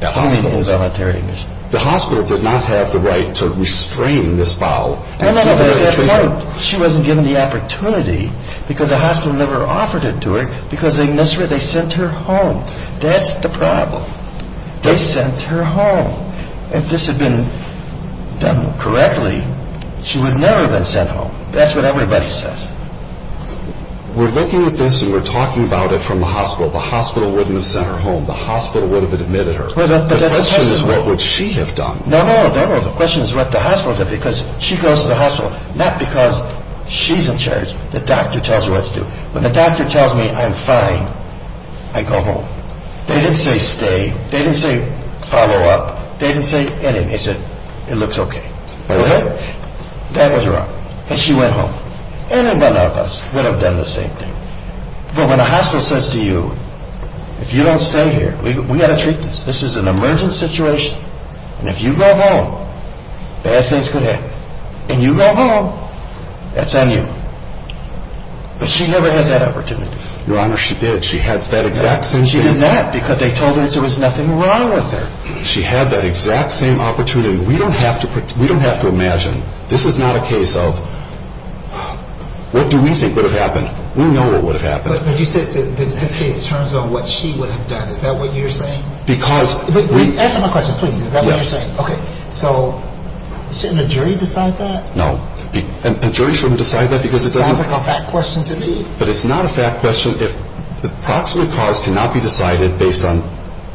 do you mean involuntary? The hospital did not have the right to restrain Ms. Bowe. She wasn't given the opportunity because the hospital never offered it to her because they sent her home. That's the problem. They sent her home. If this had been done correctly, she would never have been sent home. That's what everybody says. We're looking at this and we're talking about it from the hospital. The hospital wouldn't have sent her home. The hospital would have admitted her. The question is, what would she have done? The question is what the hospital said because she goes to the hospital not because she's in charge. The doctor tells her what to do. When the doctor tells me I'm fine, I go home. They didn't say stay. They didn't say follow up. They didn't say anything. They said, it looks okay. That was wrong. And she went home. Any one of us would have done the same thing. But when a hospital says to you, if you don't stay here, we've got to treat this. This is an emergency situation. And if you go home, bad things could happen. And you go home, it's on you. But she never had that opportunity. Your Honor, she did. She had that exact same opportunity. She did not because they told her there was nothing wrong with her. She had that exact same opportunity. We don't have to imagine. This is not a case of, what do we think would have happened? We know what would have happened. But you said, okay, in terms of what she would have done, is that what you're saying? Answer my question, please. Is that what you're saying? Okay. So, shouldn't the jury decide that? No. The jury shouldn't decide that because it doesn't. That's a fat question to me. But it's not a fat question if the proximate cause cannot be decided based on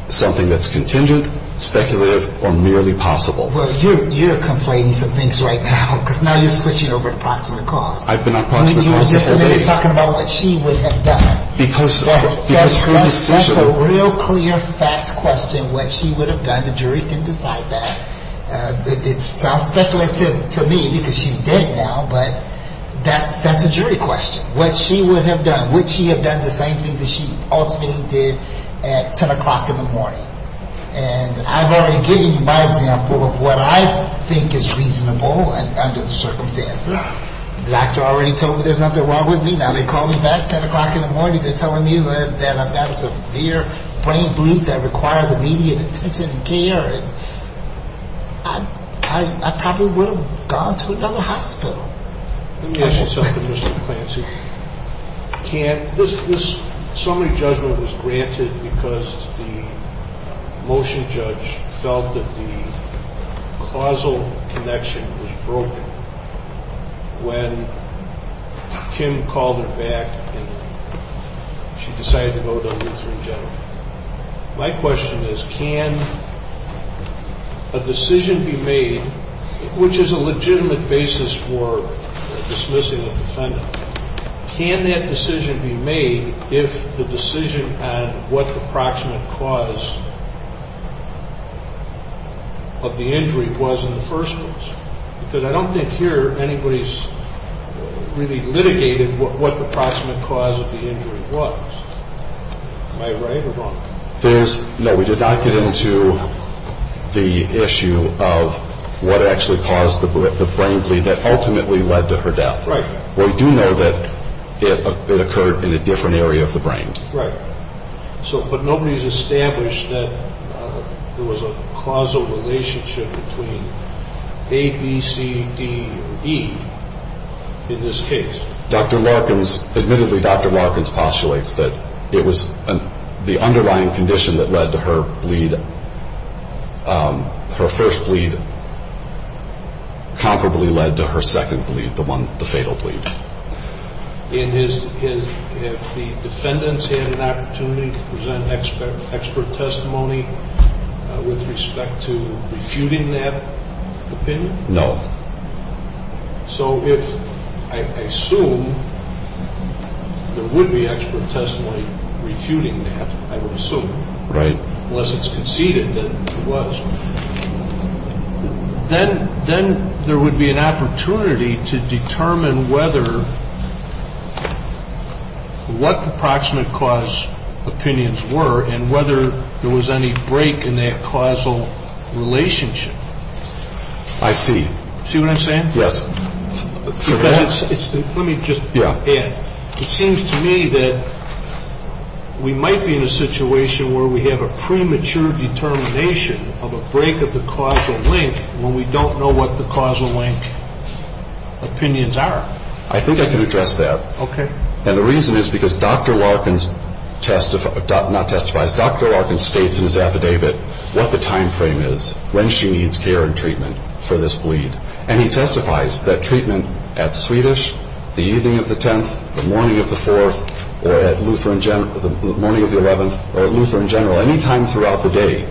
something that's contingent, speculative, or merely possible. Well, you're complaining for Vince right now because now you're switching over to proximate cause. I've been on proximate cause the whole day. You're talking about what she would have done. That's a real clear, fat question, what she would have done. The jury can decide that. It's not speculative to me because she's dead now, but that's a jury question. What she would have done. Would she have done the same thing that she ultimately did at 10 o'clock in the morning? And I've already given you my example of what I think is reasonable under the circumstances. The doctor already told me there's nothing wrong with me. Now, they call me back at 10 o'clock in the morning. They tell me that I have severe brain bleeding that requires immediate care. I probably would have gone to another hospital. Let me ask you something, Mr. McKenzie. This summary judgment was granted because the motion judge felt that the causal connection was broken when Kim called her back and she decided to go to W3. My question is, can a decision be made, which is a legitimate basis for dismissing a defendant, can that decision be made if the decision on what the approximate cause of the injury was in the first place? Because I don't think here anybody's really litigated what the approximate cause of the injury was. Am I right or wrong? No, we did not get into the issue of what actually caused the brain bleed that ultimately led to her death. Right. We do know that it occurred in a different area of the brain. Right. But nobody's established that there was a causal relationship between A, B, C, D, E in this case. Dr. Larkins, admittedly, Dr. Larkins postulates that it was the underlying condition that led to her bleed, her first bleed comparably led to her second bleed, the fatal bleed. And the defendants had an opportunity to present expert testimony with respect to refuting that opinion? No. So if, I assume, there would be expert testimony refuting that, I would assume, right? Unless it's conceded that it was. Then there would be an opportunity to determine whether, what the approximate cause of pain were, and whether there was any break in that causal relationship. I see. See what I'm saying? Yes. Let me just add. It seems to me that we might be in a situation where we have a premature determination of a break of the causal link when we don't know what the causal link opinions are. I think I can address that. Okay. And the reason is because Dr. Larkins states in his affidavit what the timeframe is when she needs care and treatment for this bleed. And he testifies that treatment at Swedish, the evening of the 10th, the morning of the 4th, or at Lutheran General, any time throughout the day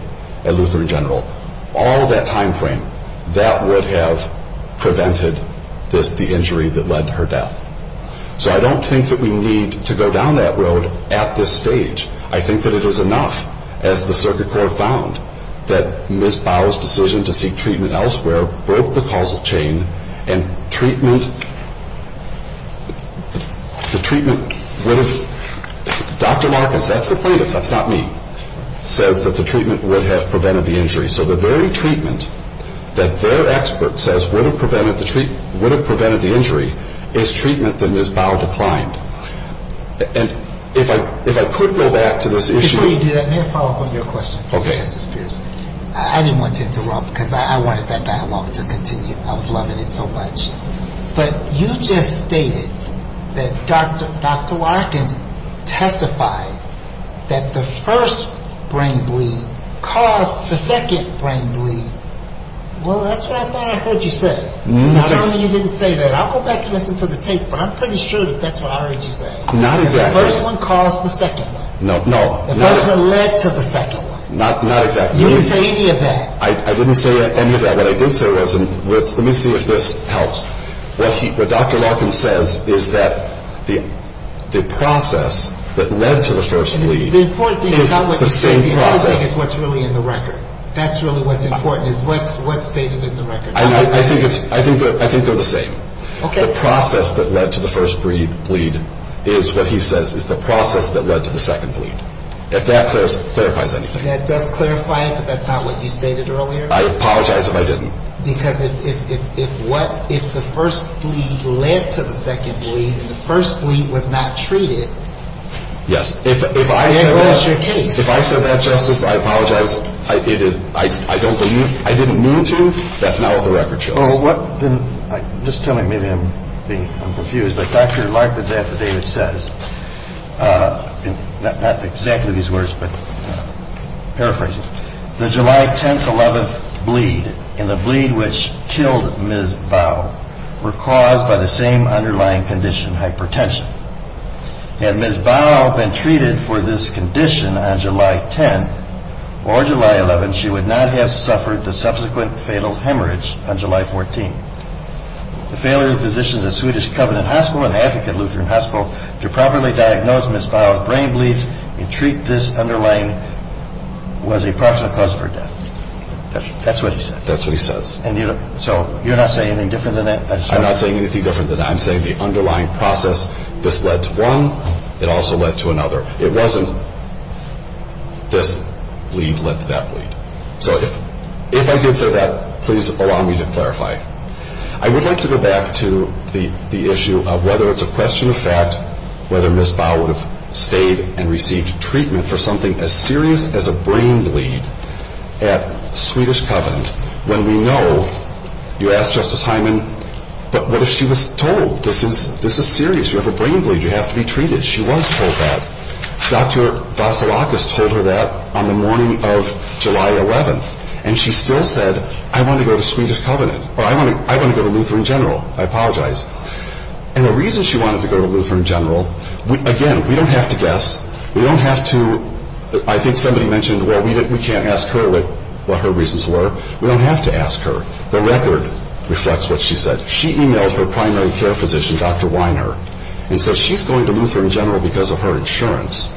at Lutheran General, all that timeframe, that would have prevented the injury that led to her death. So I don't think that we need to go down that road at this stage. I think that it is enough, as the circuit court found, that Ms. Bower's decision to seek treatment elsewhere broke the causal chain and treatment, the treatment would have, Dr. Larkins, that's the plaintiff, that's not me, said that the treatment would have prevented the injury. So the very treatment that their expert says would have prevented the injury is treatment that Ms. Bower declined. And if I could go back to this issue. Let me follow up on your question. Okay. I didn't want to interrupt because I wanted that dialogue to continue. I was loving it so much. But you just stated that Dr. Larkins testified that the first brain bleed caused the second brain bleed. Well, that's what I thought I heard you say. Not only you didn't say that, I'll go back and listen to the tape, but I'm pretty sure that that's what I already said. Not exactly. The first one caused the second one. No, no. That was what led to the second one. Not exactly. You didn't say any of that. I didn't say any of that. Let me see if this helps. What Dr. Larkins says is that the process that led to the first bleed is the same process. The other thing is what's really in the record. That's really what's important is what's stated in the record. I think they're the same. Okay. The process that led to the first brain bleed is what he says is the process that led to the second bleed. If that clarifies anything. Does that clarify it because that's not what you stated earlier? I apologize if I didn't. Because if the first bleed led to the second bleed, the first bleed was not treated. Yes. If I said that justice, I apologize, I didn't mean to, that's not what the record shows. Just tell me, maybe I'm confused, but Dr. Larkins, as David says, not exactly these words, but paraphrases, the July 10th, 11th bleed and the bleed which killed Ms. Bowe were caused by the same underlying condition, hypertension. Had Ms. Bowe been treated for this condition on July 10th or July 11th, she would not have suffered the subsequent fatal hemorrhage on July 14th. The failure of physicians at Swedish Covenant Hospital and the African Lutheran Hospital to properly diagnose Ms. Bowe's brain bleed and treat this underlying was a proximal cause for death. That's what he says. That's what he says. So you're not saying anything different than that? I'm not saying anything different than that. I'm saying the underlying process, this led to one, it also led to another. It wasn't this bleed that led to that bleed. So if I did say that, please allow me to clarify. I would like to go back to the issue of whether it's a question of fact whether Ms. Bowe stayed and received treatment for something as serious as a brain bleed at Swedish Covenant when we know, you asked Justice Hyman, but what if she was told this is serious, you have a brain bleed, you have to be treated. She was told that. Dr. Vasilakis told her that on the morning of July 11th, and she still said, I want to go to Swedish Covenant, or I want to go to Lutheran General. I apologize. And the reason she wanted to go to Lutheran General, again, we don't have to guess. We don't have to, I think somebody mentioned, well, we can't ask her what her reasons were. We don't have to ask her. The record reflects what she said. She emailed her primary care physician, Dr. Weiner, and said she's going to Lutheran General because of her insurance.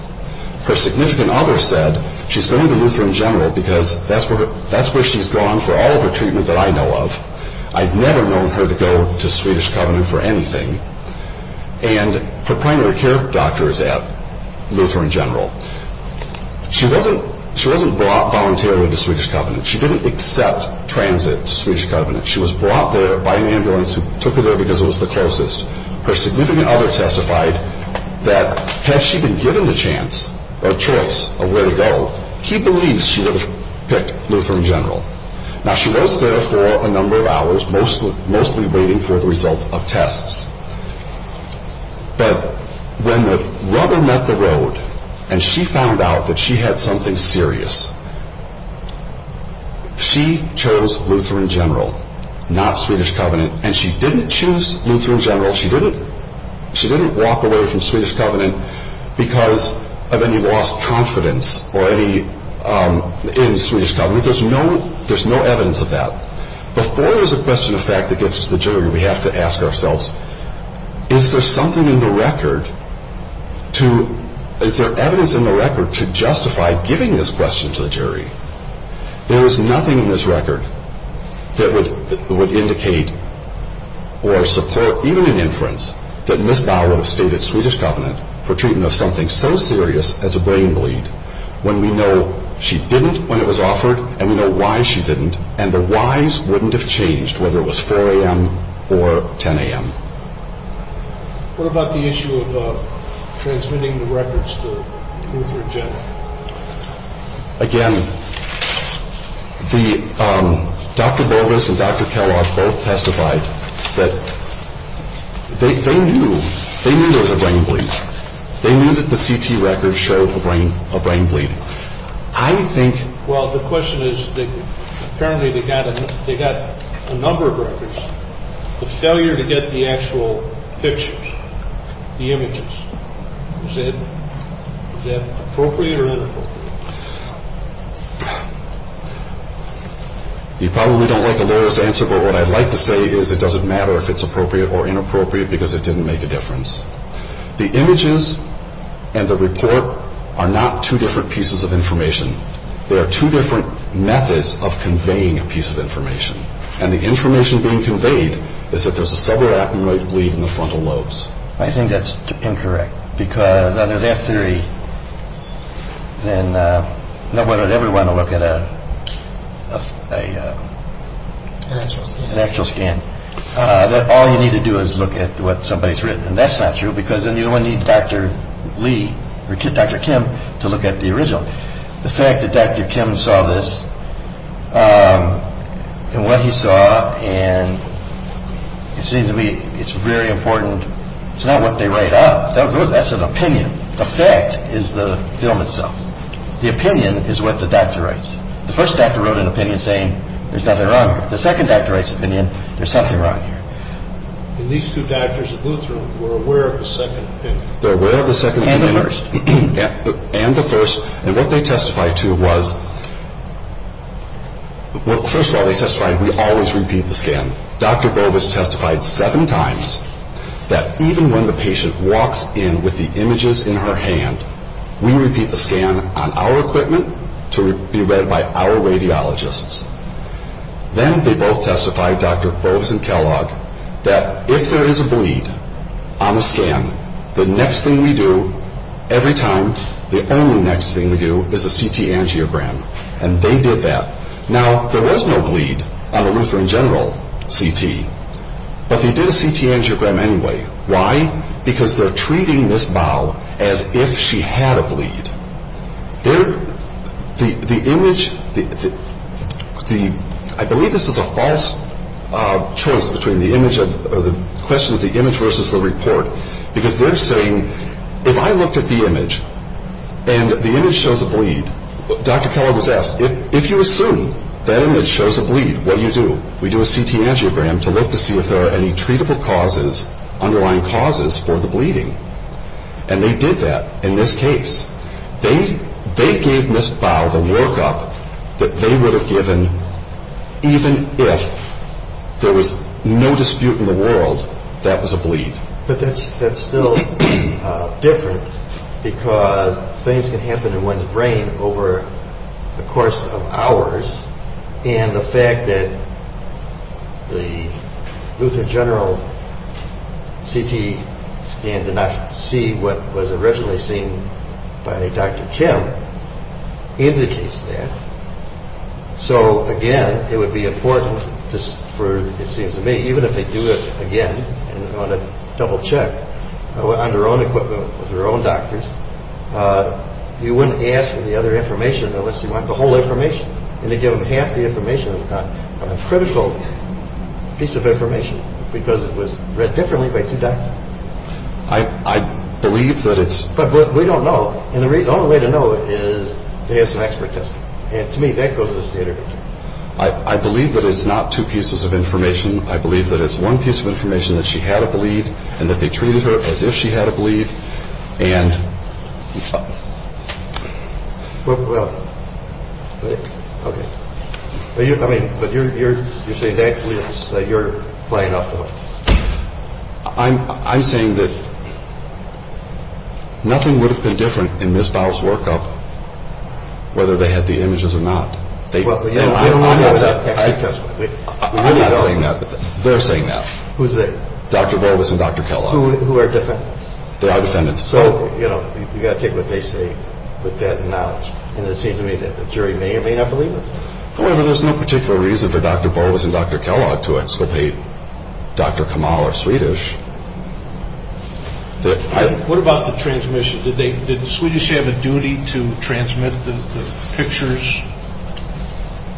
Her significant other said she's going to Lutheran General because that's where she's gone for all of her treatment that I know of. I've never known her to go to Swedish Covenant for anything. And her primary care doctor is at Lutheran General. She wasn't brought voluntarily to Swedish Covenant. She didn't accept transit to Swedish Covenant. She was brought there by ambulance who took her there because it was the closest. Her significant other testified that had she been given the chance or choice of where to go, she believes she would have picked Lutheran General. Now, she was there for a number of hours, mostly waiting for the result of tests. But when the rubber met the road and she found out that she had something serious, she chose Lutheran General, not Swedish Covenant. And she didn't choose Lutheran General. She didn't walk away from Swedish Covenant because of any lost confidence in Swedish Covenant. There's no evidence of that. Before there's a question of fact that gets to the jury, we have to ask ourselves, is there evidence in the record to justify giving this question to the jury? There is nothing in this record that would indicate or support, even in inference, that Ms. Barlow stated Swedish Covenant for treatment of something so serious as a brain bleed when we know she didn't when it was offered and we know why she didn't and the whys wouldn't have changed whether it was 4 a.m. or 10 a.m. What about the issue of transmitting the records to Lutheran General? Again, Dr. Borges and Dr. Kellogg both testified that they knew there was a brain bleed. They knew that the CT records showed a brain bleed. Well, the question is, apparently they got a number of records. It's a failure to get the actual pictures, the images. Is that appropriate or inappropriate? You probably don't want the lowest answer, but what I'd like to say is it doesn't matter if it's appropriate or inappropriate because it didn't make a difference. The images and the report are not two different pieces of information. They are two different methods of conveying a piece of information, and the information being conveyed is that there's a severe acumenoid bleed in the frontal lobes. I think that's incorrect because under that theory, then nobody would ever want to look at an actual scan. All you need to do is look at what somebody's written, and that's not true because then you don't need Dr. Lee or Dr. Kim to look at the original. The fact that Dr. Kim saw this, and what he saw, and it seems to me it's very important. It's not what they write out. That's an opinion. Effect is the film itself. The opinion is what the doctor writes. The first doctor wrote an opinion saying there's nothing wrong with it. The second doctor writes an opinion, there's something wrong here. And these two doctors at Lutheran were aware of the second opinion. They're aware of the second opinion. And the first. And the first, and what they testified to was, well, first of all, they testified we always repeat the scan. Dr. Gold was testified seven times that even when the patient walks in with the images in her hand, we repeat the scan on our equipment to be read by our radiologists. Then they both testified, Dr. Forbes and Kellogg, that if there is a bleed on the scan, the next thing we do every time, the only next thing we do is a CT angiogram. And they did that. Now, there was no bleed on a Lutheran general CT, but they did a CT angiogram anyway. Why? Because they're treating this bowel as if she had a bleed. I believe this is a false choice between the question of the image versus the report, because they're saying if I looked at the image and the image shows a bleed, Dr. Kellogg was asked, if you assume that image shows a bleed, what do you do? We do a CT angiogram to look to see if there are any treatable underlying causes for the bleeding. And they did that in this case. They gave missed bowels and woke up that they would have given even if there was no dispute in the world that was a bleed. But that's still different because things can happen to one's brain over the course of hours, and the fact that the Lutheran general CT scan did not see what was originally seen by Dr. Kim indicates that. So, again, it would be important for, it seems to me, even if they do this again, and they're going to double-check on their own equipment with their own doctors, you wouldn't ask for the other information unless you want the whole information. And they give them half the information they got. And it's a critical piece of information because it was read differently by CT. I believe that it's- But we don't know. And the only way to know is to have some expertise. And to me, that goes as data. I believe that it's not two pieces of information. I believe that it's one piece of information that she had a bleed, and that they treated her as if she had a bleed, and- Well, okay. I mean, but you're saying that you're playing up to them. I'm saying that nothing would have been different in Ms. Fowler's workup, whether they had the images or not. Well, we don't want that. I'm not saying that, but they're saying that. Who's that? Dr. Valdis and Dr. Kellogg. Who are different? So, you know, you've got to take what they say with that knowledge. And it seems to me that the jury may or may not believe them. Well, there's no particular reason for Dr. Valdis and Dr. Kellogg to have said that Dr. Kamal is Swedish. What about the transmission? Did the Swedish have a duty to transmit the pictures,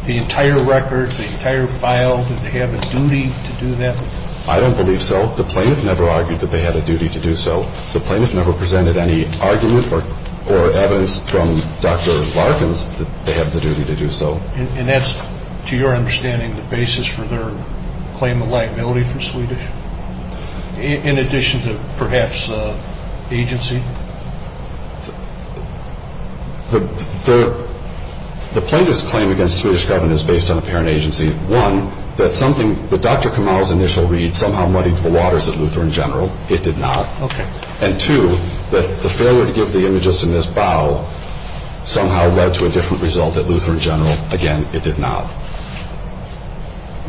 the entire records, the entire files? Did they have a duty to do that? I don't believe so. Well, the plaintiff never argued that they had a duty to do so. The plaintiff never presented any argument or evidence from Dr. Valdis that they had the duty to do so. And that's, to your understanding, the basis for their claim of likeability for Swedish, in addition to perhaps agency? The plaintiff's claim against the Swedish government is based on apparent agency. One, that Dr. Kamal's initial read somehow muddied the waters at Lutheran General. It did not. And two, that the failure to give the images in this bottle somehow led to a different result at Lutheran General. Again, it did not.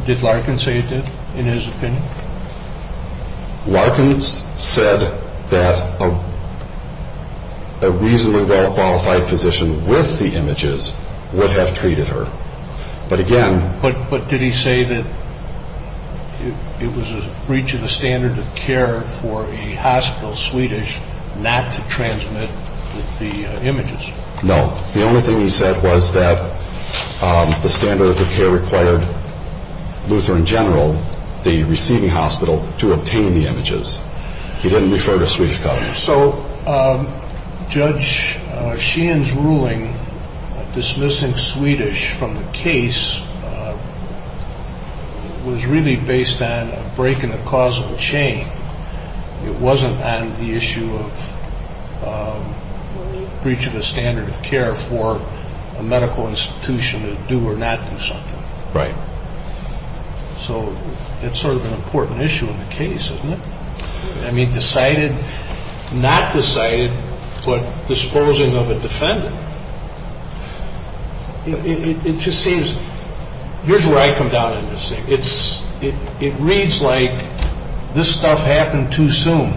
Did Larkins say it did, in his opinion? Larkins said that a reasonably well-qualified physician with the images would have treated her. But did he say that it was a breach of the standard of care for a hospital Swedish not to transmit the images? No. The only thing he said was that the standard of care required Lutheran General, the receiving hospital, to obtain the images. He didn't refer to Swedish government. So, Judge Sheehan's ruling dismissing Swedish from the case was really based on a break in the causal chain. It wasn't on the issue of breach of the standard of care for a medical institution to do or not do something. Right. So, that's sort of an important issue in the case, isn't it? I mean, decided, not decided, but disposing of a defendant. It just seems, here's where I come down on this. It reads like this stuff happened too soon.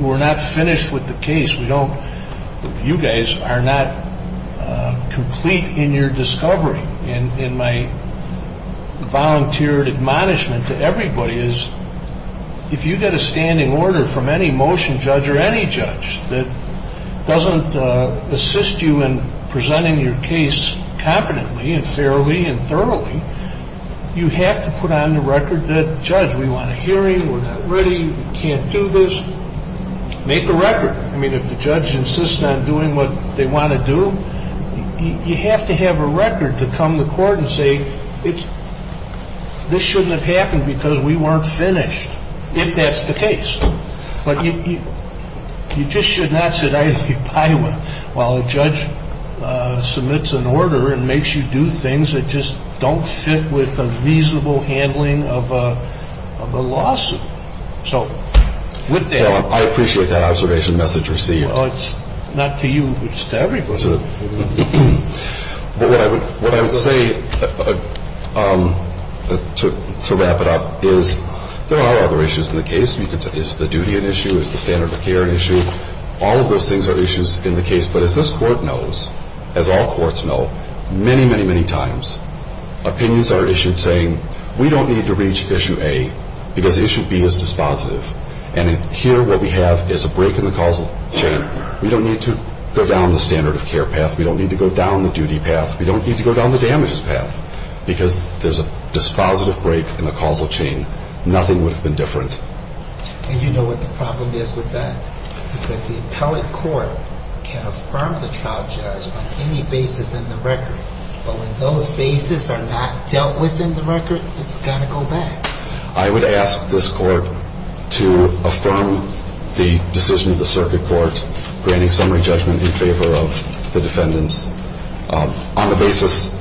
We're not finished with the case. You guys are not complete in your discovery. And my volunteer admonishment to everybody is if you get a standing order from any motion judge or any judge that doesn't assist you in presenting your case competently and fairly and thoroughly, you have to put on the record that, Judge, we want a hearing. We're not ready. We can't do this. Make a record. I mean, if the judge insists on doing what they want to do, you have to have a record to come to court and say, this shouldn't have happened because we weren't finished. If that's the case. But you just should not sit idly by while a judge submits an order and makes you do things that just don't fit with the reasonable handling of a lawsuit. With that, I appreciate that observation message received. It's not to you. It's to everybody. But what I would say, to wrap it up, is there are other issues in the case. Is the duty an issue? Is the standard of care an issue? All of those things are issues in the case. But as this court knows, as all courts know, many, many, many times, opinions are issued saying, we don't need to reach issue A because issue B is dispositive. And here what we have is a break in the causal chain. We don't need to go down the standard of care path. We don't need to go down the duty path. We don't need to go down the damage path because there's a dispositive break in the causal chain. Nothing would have been different. And you know what the problem is with that? Because the appellate court can affirm the charge on any basis in the record. But when those bases are not dealt with in the record, it's going to go back. I would ask this court to affirm the decision of the circuit court granting summary judgment in favor of the defendants on the basis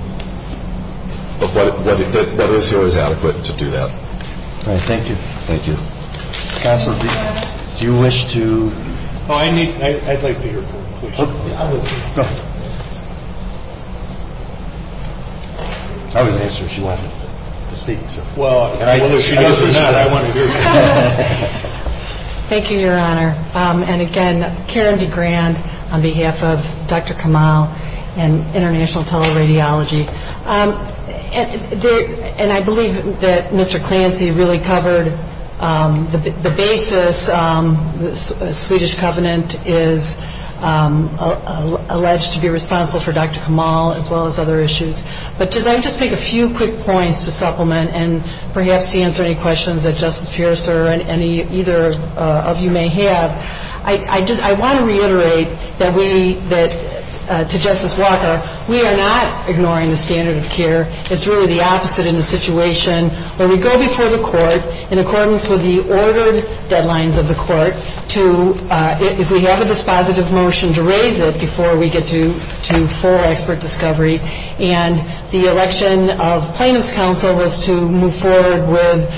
of whether it's always adequate to do that. Thank you. Thank you. Counselor, do you wish to? I'd like to hear her question. Go ahead. Thank you, Your Honor. And again, Karen DeGrand on behalf of Dr. Kamal and International Tele-Radiology. And I believe that Mr. Clancy really covered the basis. The Swedish Covenant is alleged to be responsible for Dr. Kamal as well as other issues. But I'd just like to make a few quick points to supplement and perhaps answer any questions that Justice Pierce or either of you may have. I want to reiterate to Justice Walker, we are not ignoring the standard of care. It's really the opposite in the situation where we go before the court in accordance with the ordered deadlines of the court to, if we have a dispositive motion, to raise it before we get to full expert discovery. And the election of plaintiff's counsel was to move forward with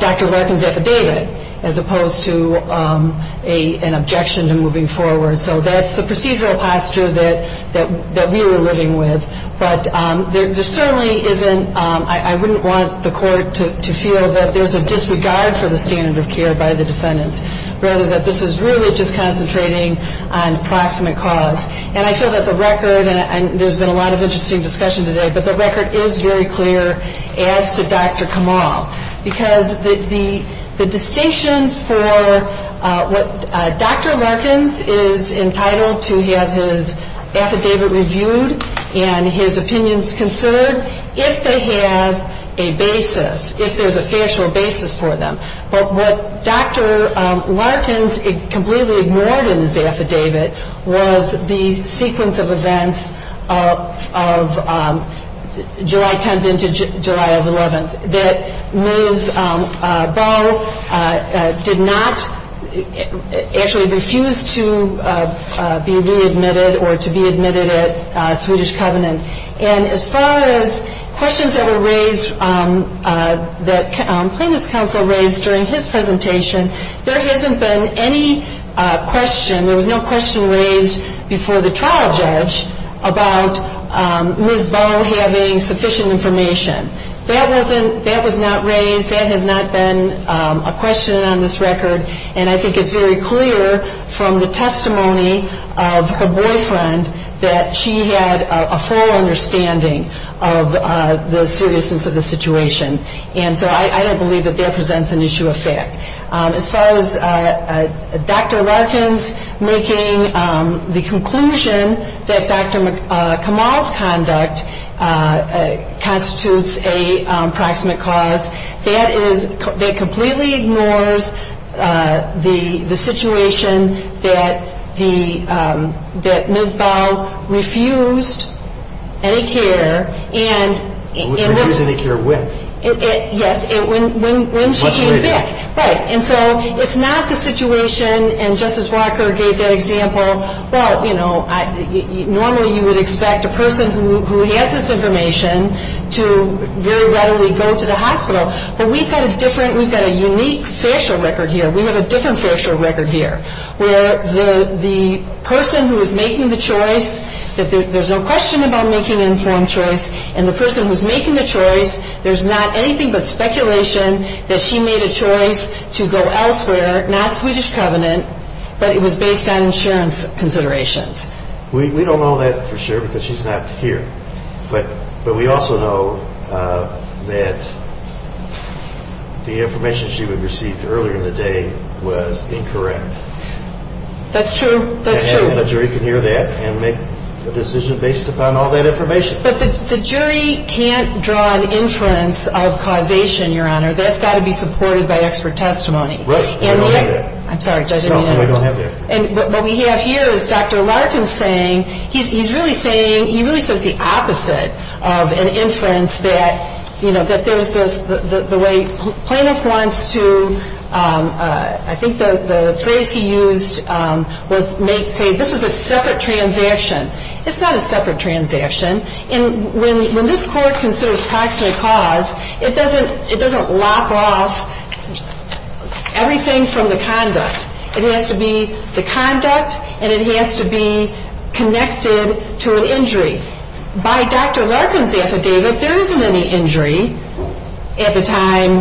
Dr. Reckon's affidavit as opposed to an objection to moving forward. So that's the procedural posture that we were living with. But there certainly isn't, I wouldn't want the court to feel that there's a disregard for the standard of care by the defendants, rather that this is really just concentrating on proximate cause. And I feel that the record, and there's been a lot of interesting discussion today, but the record is very clear as to Dr. Kamal. Because the distinction for what Dr. Larkins is entitled to have his affidavit reviewed and his opinions conserved if they have a basis, if there's a fair, short basis for them. But what Dr. Larkins completely ignored in his affidavit was the sequence of events of July 10th into July 11th, that Ms. Bowe did not actually refuse to be readmitted or to be admitted at Swedish Covenant. And as far as questions that were raised, that the plaintiff's counsel raised during his presentation, there hasn't been any question, there was no question raised before the trial judge about Ms. Bowe having sufficient information. That was not raised, that has not been a question on this record, and I think it's very clear from the testimony of her boyfriend that she had a full understanding of the seriousness of the situation. And so I don't believe that that presents an issue of fact. As far as Dr. Larkins making the conclusion that Dr. Kamal's conduct constitutes a proximate cause, that completely ignores the situation that Ms. Bowe refused any care and... Was refusing any care when? Yes, when she came back. Right, and so it's not the situation, and Justice Walker gave that example, but normally you would expect a person who has this information to very readily go to the hospital, but we've got a different, we've got a unique facial record here, we have a different facial record here, where the person who is making the choice, there's no question about making an informed choice, and the person who's making the choice, there's not anything but speculation that she made a choice to go elsewhere, not Swedish Covenant, but it was based on insurance considerations. We don't know that for sure because she's not here, but we also know that the information she received earlier in the day was incorrect. That's true, that's true. And the jury can hear that and make a decision based upon all that information. But the jury can't draw an inference of causation, Your Honor, that's got to be supported by extra testimony. Right, I don't have that. I'm sorry, Judge, I don't have that. And what we have here is Dr. Larkin saying, he's really saying, he really says the opposite of an inference that, you know, that there's this, the way plaintiff wants to, I think the phrase he used was make, say, this is a separate transaction. It's not a separate transaction. And when this court considers causal cause, it doesn't lock off everything from the conduct. It has to be the conduct and it has to be connected to an injury. By Dr. Larkin's affidavit, there isn't any injury at the time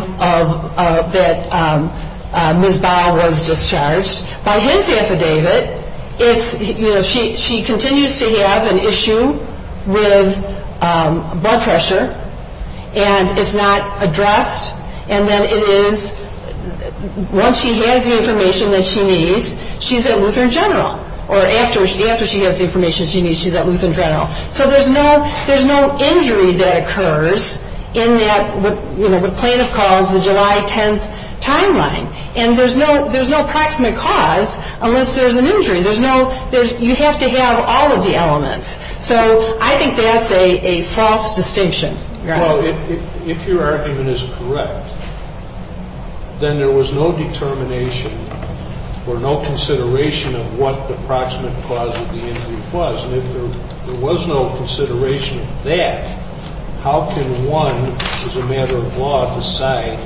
that Ms. Baum was discharged. By his affidavit, it's, you know, she continues to have an issue with blood pressure, and it's not addressed, and then it is, once she has the information that she needs, she's at Lutheran General, or after she has the information she needs, she's at Lutheran General. So there's no injury that occurs in that, you know, the plaintiff calls the July 10th timeline. And there's no proximate cause unless there's an injury. There's no, you have to have all of the elements. So I think that's a false distinction. No, if your argument is correct, then there was no determination or no consideration of what the proximate cause of the injury was. If there was no consideration of that, how can one, as a matter of law, decide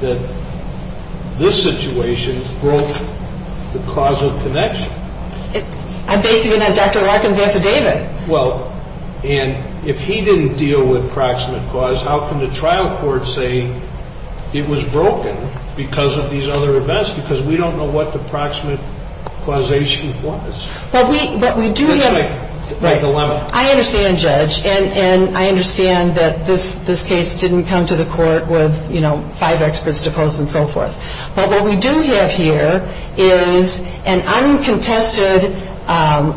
that this situation is broken? The causal connection. I'm basing it on Dr. Larkin's affidavit. Well, and if he didn't deal with the proximate cause, how can the trial court say it was broken because of these other events? Because we don't know what the proximate causation was. Right. I understand, Judge, and I understand that this case didn't come to the court with, you know, five experts to pose and so forth. But what we do have here is an uncontested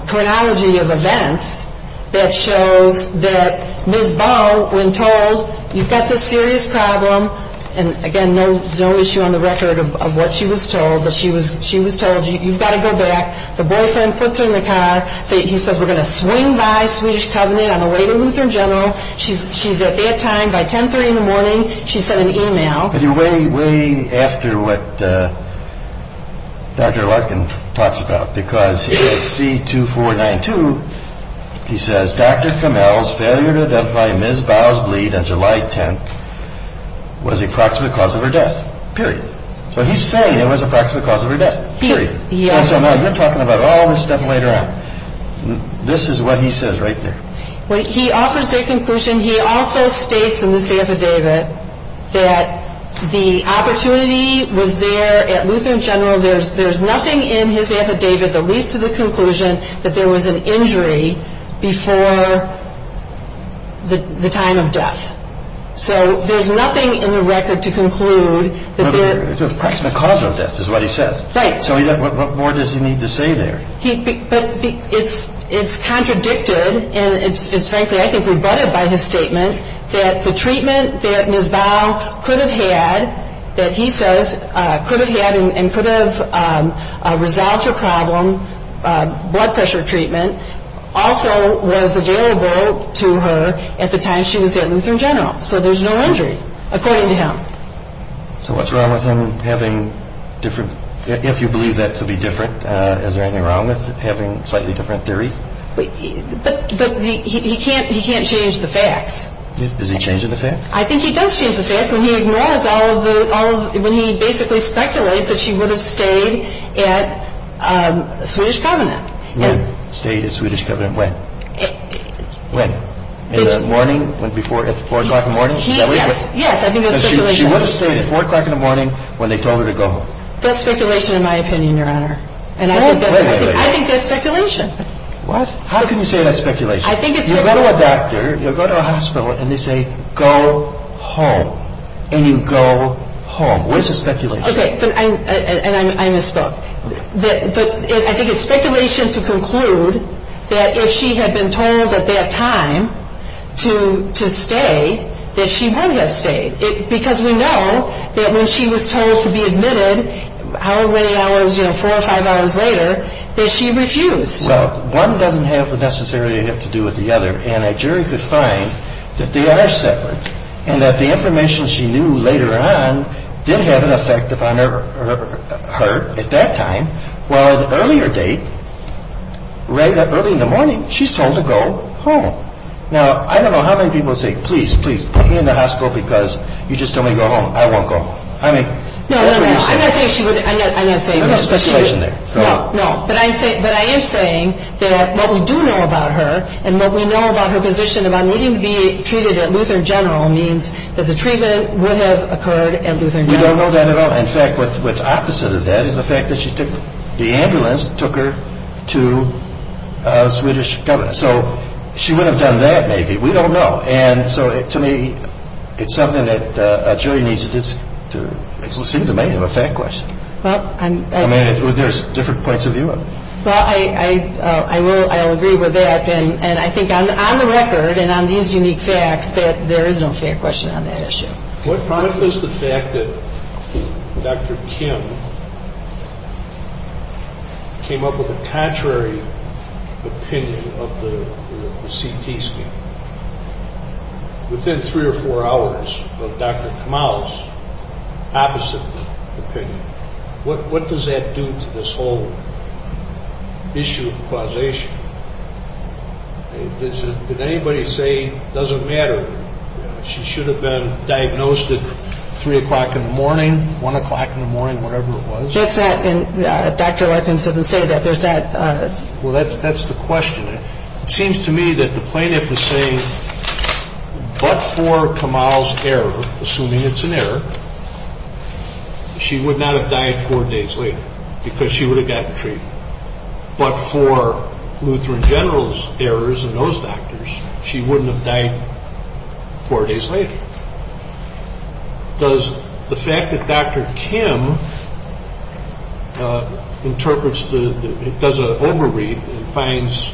chronology of events that showed that Ms. Bell, when told, you've got this serious problem, and again, no issue on the record of what she was told, but she was told, you've got to go back. Her boyfriend flips her in the car. He says, we're going to swing by Swedish Covenant on the way to Lutheran General. She's at airtime by 1030 in the morning. She sent an email. But you're waiting after what Dr. Larkin talks about because here at C2492, he says, Dr. Camel's failure to identify Ms. Bell's bleed on July 10th was the proximate cause of her death, period. So his failure was the proximate cause of her death, period. So now you're talking about all this stuff later on. This is what he says right there. He offers their conclusion. He also states in this affidavit that the opportunity was there at Lutheran General. There's nothing in his affidavit that leads to the conclusion that there was an injury before the time of death. So there's nothing in the record to conclude. The proximate cause of death is what he says. Right. So what more does he need to say there? It's contradicted, and frankly, I think rebutted by his statement, that the treatment that Ms. Bell could have had, that he says could have had and could have resolved her problem, blood pressure treatment, also was available to her at the time she was at Lutheran General. So there's no injury, according to him. So what's wrong with him having different – if you believe that to be different, is there anything wrong with having slightly different theories? But he can't change the facts. Is he changing the facts? I think he does change the facts when he ignores all of the – when he basically speculates that she would have stayed at Swedish Covenant. When? Stayed at Swedish Covenant when? When? In the morning, at 4 o'clock in the morning? Yes. She would have stayed at 4 o'clock in the morning when they told her to go home. That's speculation in my opinion, Your Honor. I think that's speculation. How can you say that's speculation? You go to a doctor, you go to a hospital, and they say, go home, and you go home. Where's the speculation? And I misspoke. I think it's speculation to conclude that if she had been told at that time to stay, that she would have stayed. Because we know that when she was told to be admitted, however many hours in, 4 or 5 hours later, that she refused. Well, one doesn't have necessarily to do with the other, and a jury could find that they are separate, and that the information she knew later on did have an effect upon her at that time, while the earlier date, early in the morning, she's told to go home. Now, I don't know how many people would say, please, please, put me in the hospital because you just don't want to go home. I won't go home. No, no, no. I'm not saying there's speculation there. No. But I am saying that what we do know about her and what we know about her position about needing to be treated at Lutheran General means that the treatment would have occurred at Lutheran General. We don't know that at all. In fact, what's opposite of that is the fact that the ambulance took her to a Swedish government. So, she would have done that maybe. We don't know. And so, to me, it's something that a jury needs to do. It's the domain of a fact question. I mean, there's different points of view on it. So, I will agree with that. And I think on the record and on these unique facts that there is no fact question on that issue. What part does the fact that Dr. Kim came up with a contrary opinion of the CT scan, within three or four hours of Dr. Kamal's opposite opinion, what does that do to this whole issue of causation? Did anybody say it doesn't matter? She should have been diagnosed at 3 o'clock in the morning, 1 o'clock in the morning, whatever it was. Yes, and Dr. Lutheran doesn't say that. Well, that's the question. It seems to me that the plaintiff is saying, but for Kamal's error, assuming it's an error, she would not have died four days later because she would have gotten treated. But for Lutheran General's errors and those doctors, she wouldn't have died four days later. Does the fact that Dr. Kim interprets the, does an over-read, finds,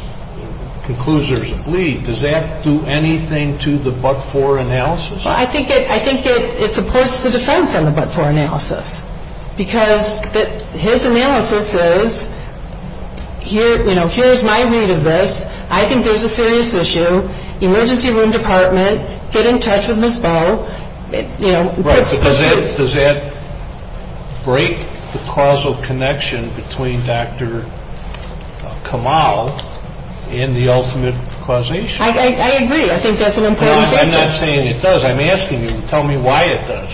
concludes there's a bleed, does that do anything to the but-for analysis? I think it supports the defense on the but-for analysis because his analysis is, here's my view to this, I think there's a serious issue, emergency room department, get in touch with Ms. O. Does that break the causal connection between Dr. Kamal and the ultimate causation? I agree, I think that's an important question. I'm not saying it does. I'm asking you to tell me why it does.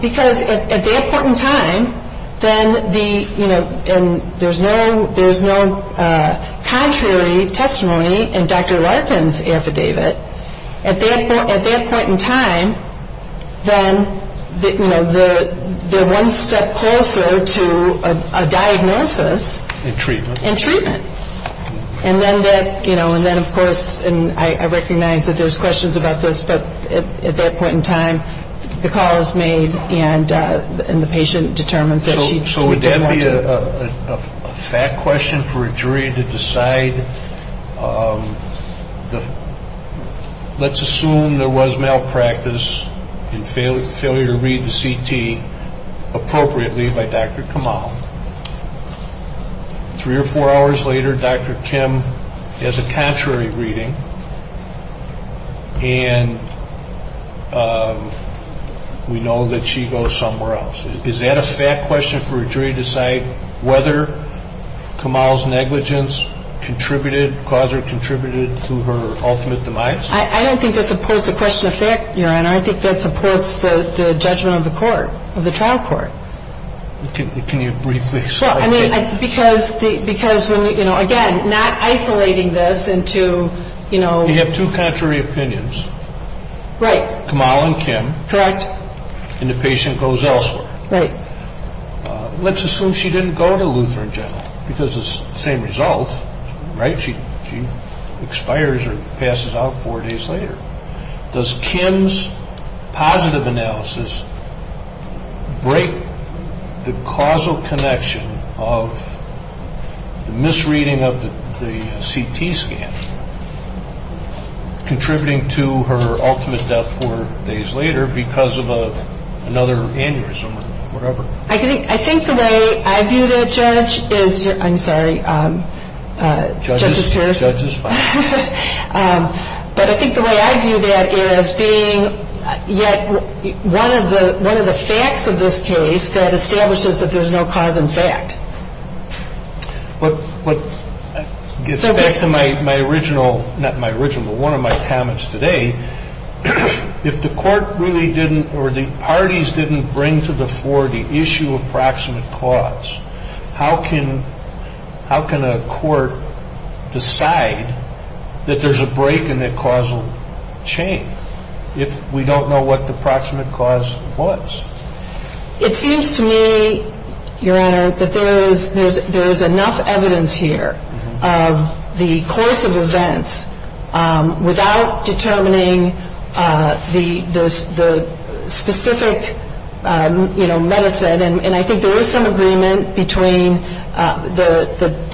Because at that point in time, there's no contrary testimony in Dr. Lutheran's affidavit. At that point in time, they're one step closer to a diagnosis and treatment. And then, of course, I recognize that there's questions about this, but at that point in time, the call is made and the patient determines that she's determined to- So would that be a fact question for a jury to decide, let's assume there was malpractice and failure to read the CT appropriately by Dr. Kamal. Three or four hours later, Dr. Kim does a contrary reading and we know that she goes somewhere else. Is that a fact question for a jury to decide whether Kamal's negligence contributed, caused or contributed to her ultimate demise? I don't think that's a question of fact, and I don't think that supports the judgment of the trial court. Can you briefly- Because, again, not isolating this into- You have two contrary opinions. Right. Kamal and Kim. Correct. And the patient goes elsewhere. Right. Let's assume she didn't go to Lutheran General because it's the same result, right? She expires or passes out four days later. Does Kim's positive analysis break the causal connection of the misreading of the CT scan contributing to her ultimate death four days later because of another aneurysm or whatever? I think the way I view the judge is-I'm sorry. Judge is fine. But I think the way I view that is being yet one of the facts of this case that establishes that there's no cause in fact. What gets back to my original-not my original, but one of my comments today, if the court really didn't or the parties didn't bring to the fore the issue of proximate cause, how can a court decide that there's a break in the causal chain if we don't know what the proximate cause was? It seems to me, Your Honor, that there is enough evidence here of the course of events without determining the specific medicine. And I think there is some agreement between the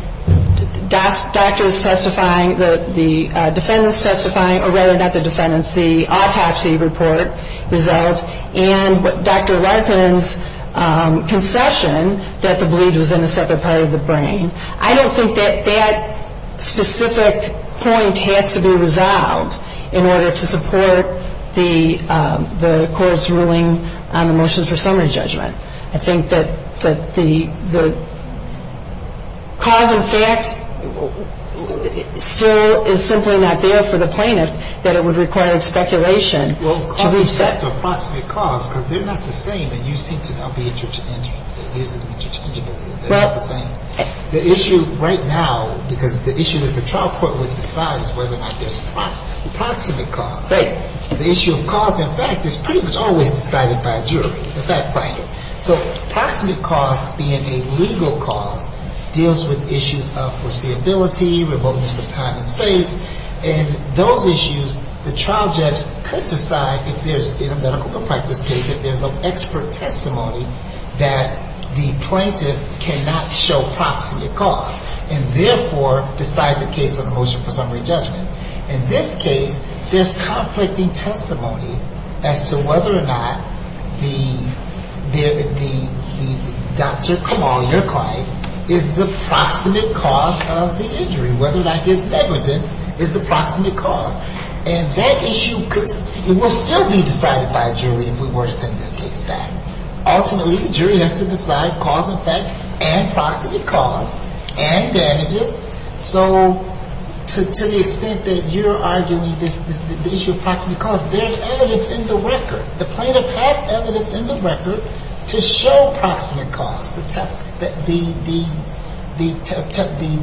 doctors specifying, the defendants specifying, or rather not the defendants, the autopsy report results and Dr. Larkin's concession that the bleed was in a separate part of the brain. I don't think that that specific point has to be resolved in order to support the court's ruling on the motion for summary judgment. I think that the cause in fact still is simply not there for the plaintiff that it would require speculation to reset- Well, the cause is not the proximate cause because they're not the same and you think they're going to be interchangable. The issue right now, because the issue is the trial court will decide whether or not there's a cause. The proximate cause. Right. The issue of cause in fact is pretty much always decided by a jury. In fact, by a jury. So proximate cause being a legal cause deals with issues of foreseeability, revocations of time and space, and those issues the trial judge could decide if there's been a medical contact with the patient. There's an expert testimony that the plaintiff cannot show proximate cause and therefore decides a case of motion for summary judgment. In this case, there's conflicting testimony as to whether or not the doctor, Kamal, your client, is the proximate cause of the injury, whether or not his negligence is the proximate cause. And that issue could still be decided by a jury if we were to take that. Ultimately, the jury has to decide cause in fact and proximate cause and the evidence. So to the extent that you're arguing the issue of proximate cause, there's evidence in the record. The plaintiff has evidence in the record to show proximate cause. The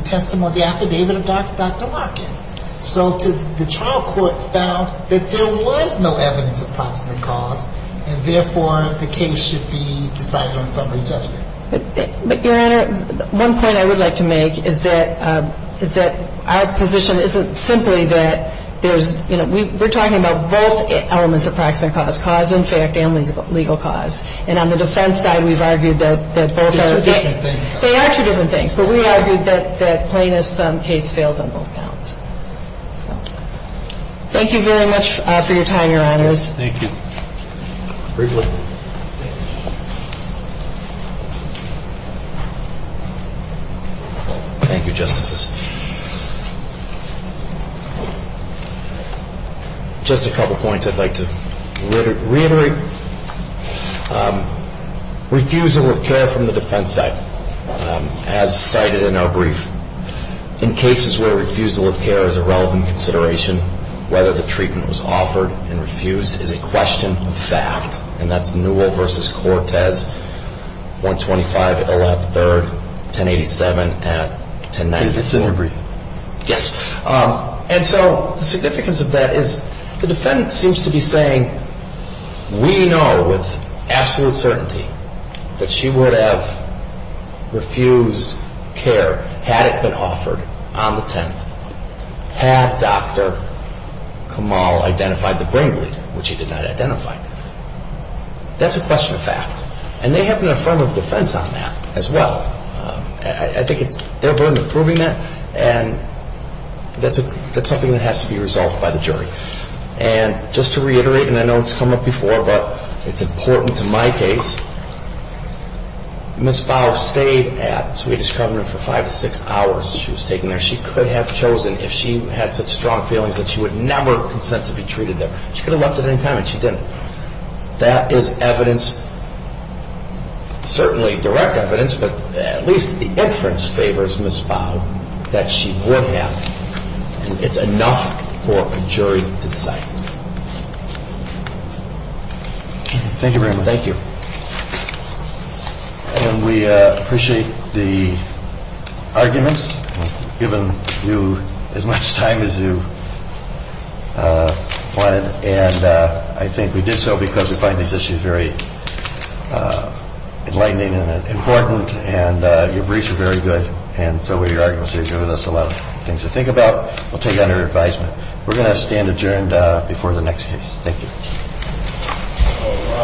testimony, the affidavit of Dr. Larkin. So the trial court found that there was no evidence of proximate cause and therefore the case should be decided on summary judgment. Your Honor, one point I would like to make is that our position isn't simply that there's, you know, we're talking about both elements of proximate cause, cause in fact and legal cause. And on the defense side, we've argued that both are different things. They are two different things. But we argue that plaintiff's case fails on both counts. Thank you very much for your time, Your Honor. Thank you. Briefly. Thank you, Justices. Just a couple points I'd like to reiterate. Refusal of care from the defense side as cited in our brief. In cases where refusal of care is a relevant consideration, whether the treatment was offered and refused is a question of fact. And that's Newell v. Cortez, 125 O.F. 3rd, 1087 and 1094. It's in the brief. Yes. And so the significance of that is the defendant seems to be saying, we know with absolute certainty that she would have refused care had it been offered on the 10th. Had Dr. Kamal identified the brain wound, which he did not identify. That's a question of fact. And they have an affirmative defense on that as well. I think they're working on proving that. And that's something that has to be resolved by the jury. And just to reiterate, and I know it's come up before, but it's important to my case, Ms. Biles stayed at Swedish Covenant for five to six hours that she was taken there. She could have chosen if she had such strong feelings that she would never have consented to be treated there. She could have left at any time and she didn't. That is evidence, certainly direct evidence, but at least the inference favors Ms. Biles that she would have. And it's enough for a jury to decide. Thank you very much. Thank you. We appreciate the arguments, given you as much time as you wanted. And I think we did so because we find this issue very enlightening and important. And your briefs are very good, and so are your arguments. They've given us a lot of things to think about. We'll take that in your advisement. We're going to have a stand adjourned before the next case. Thank you.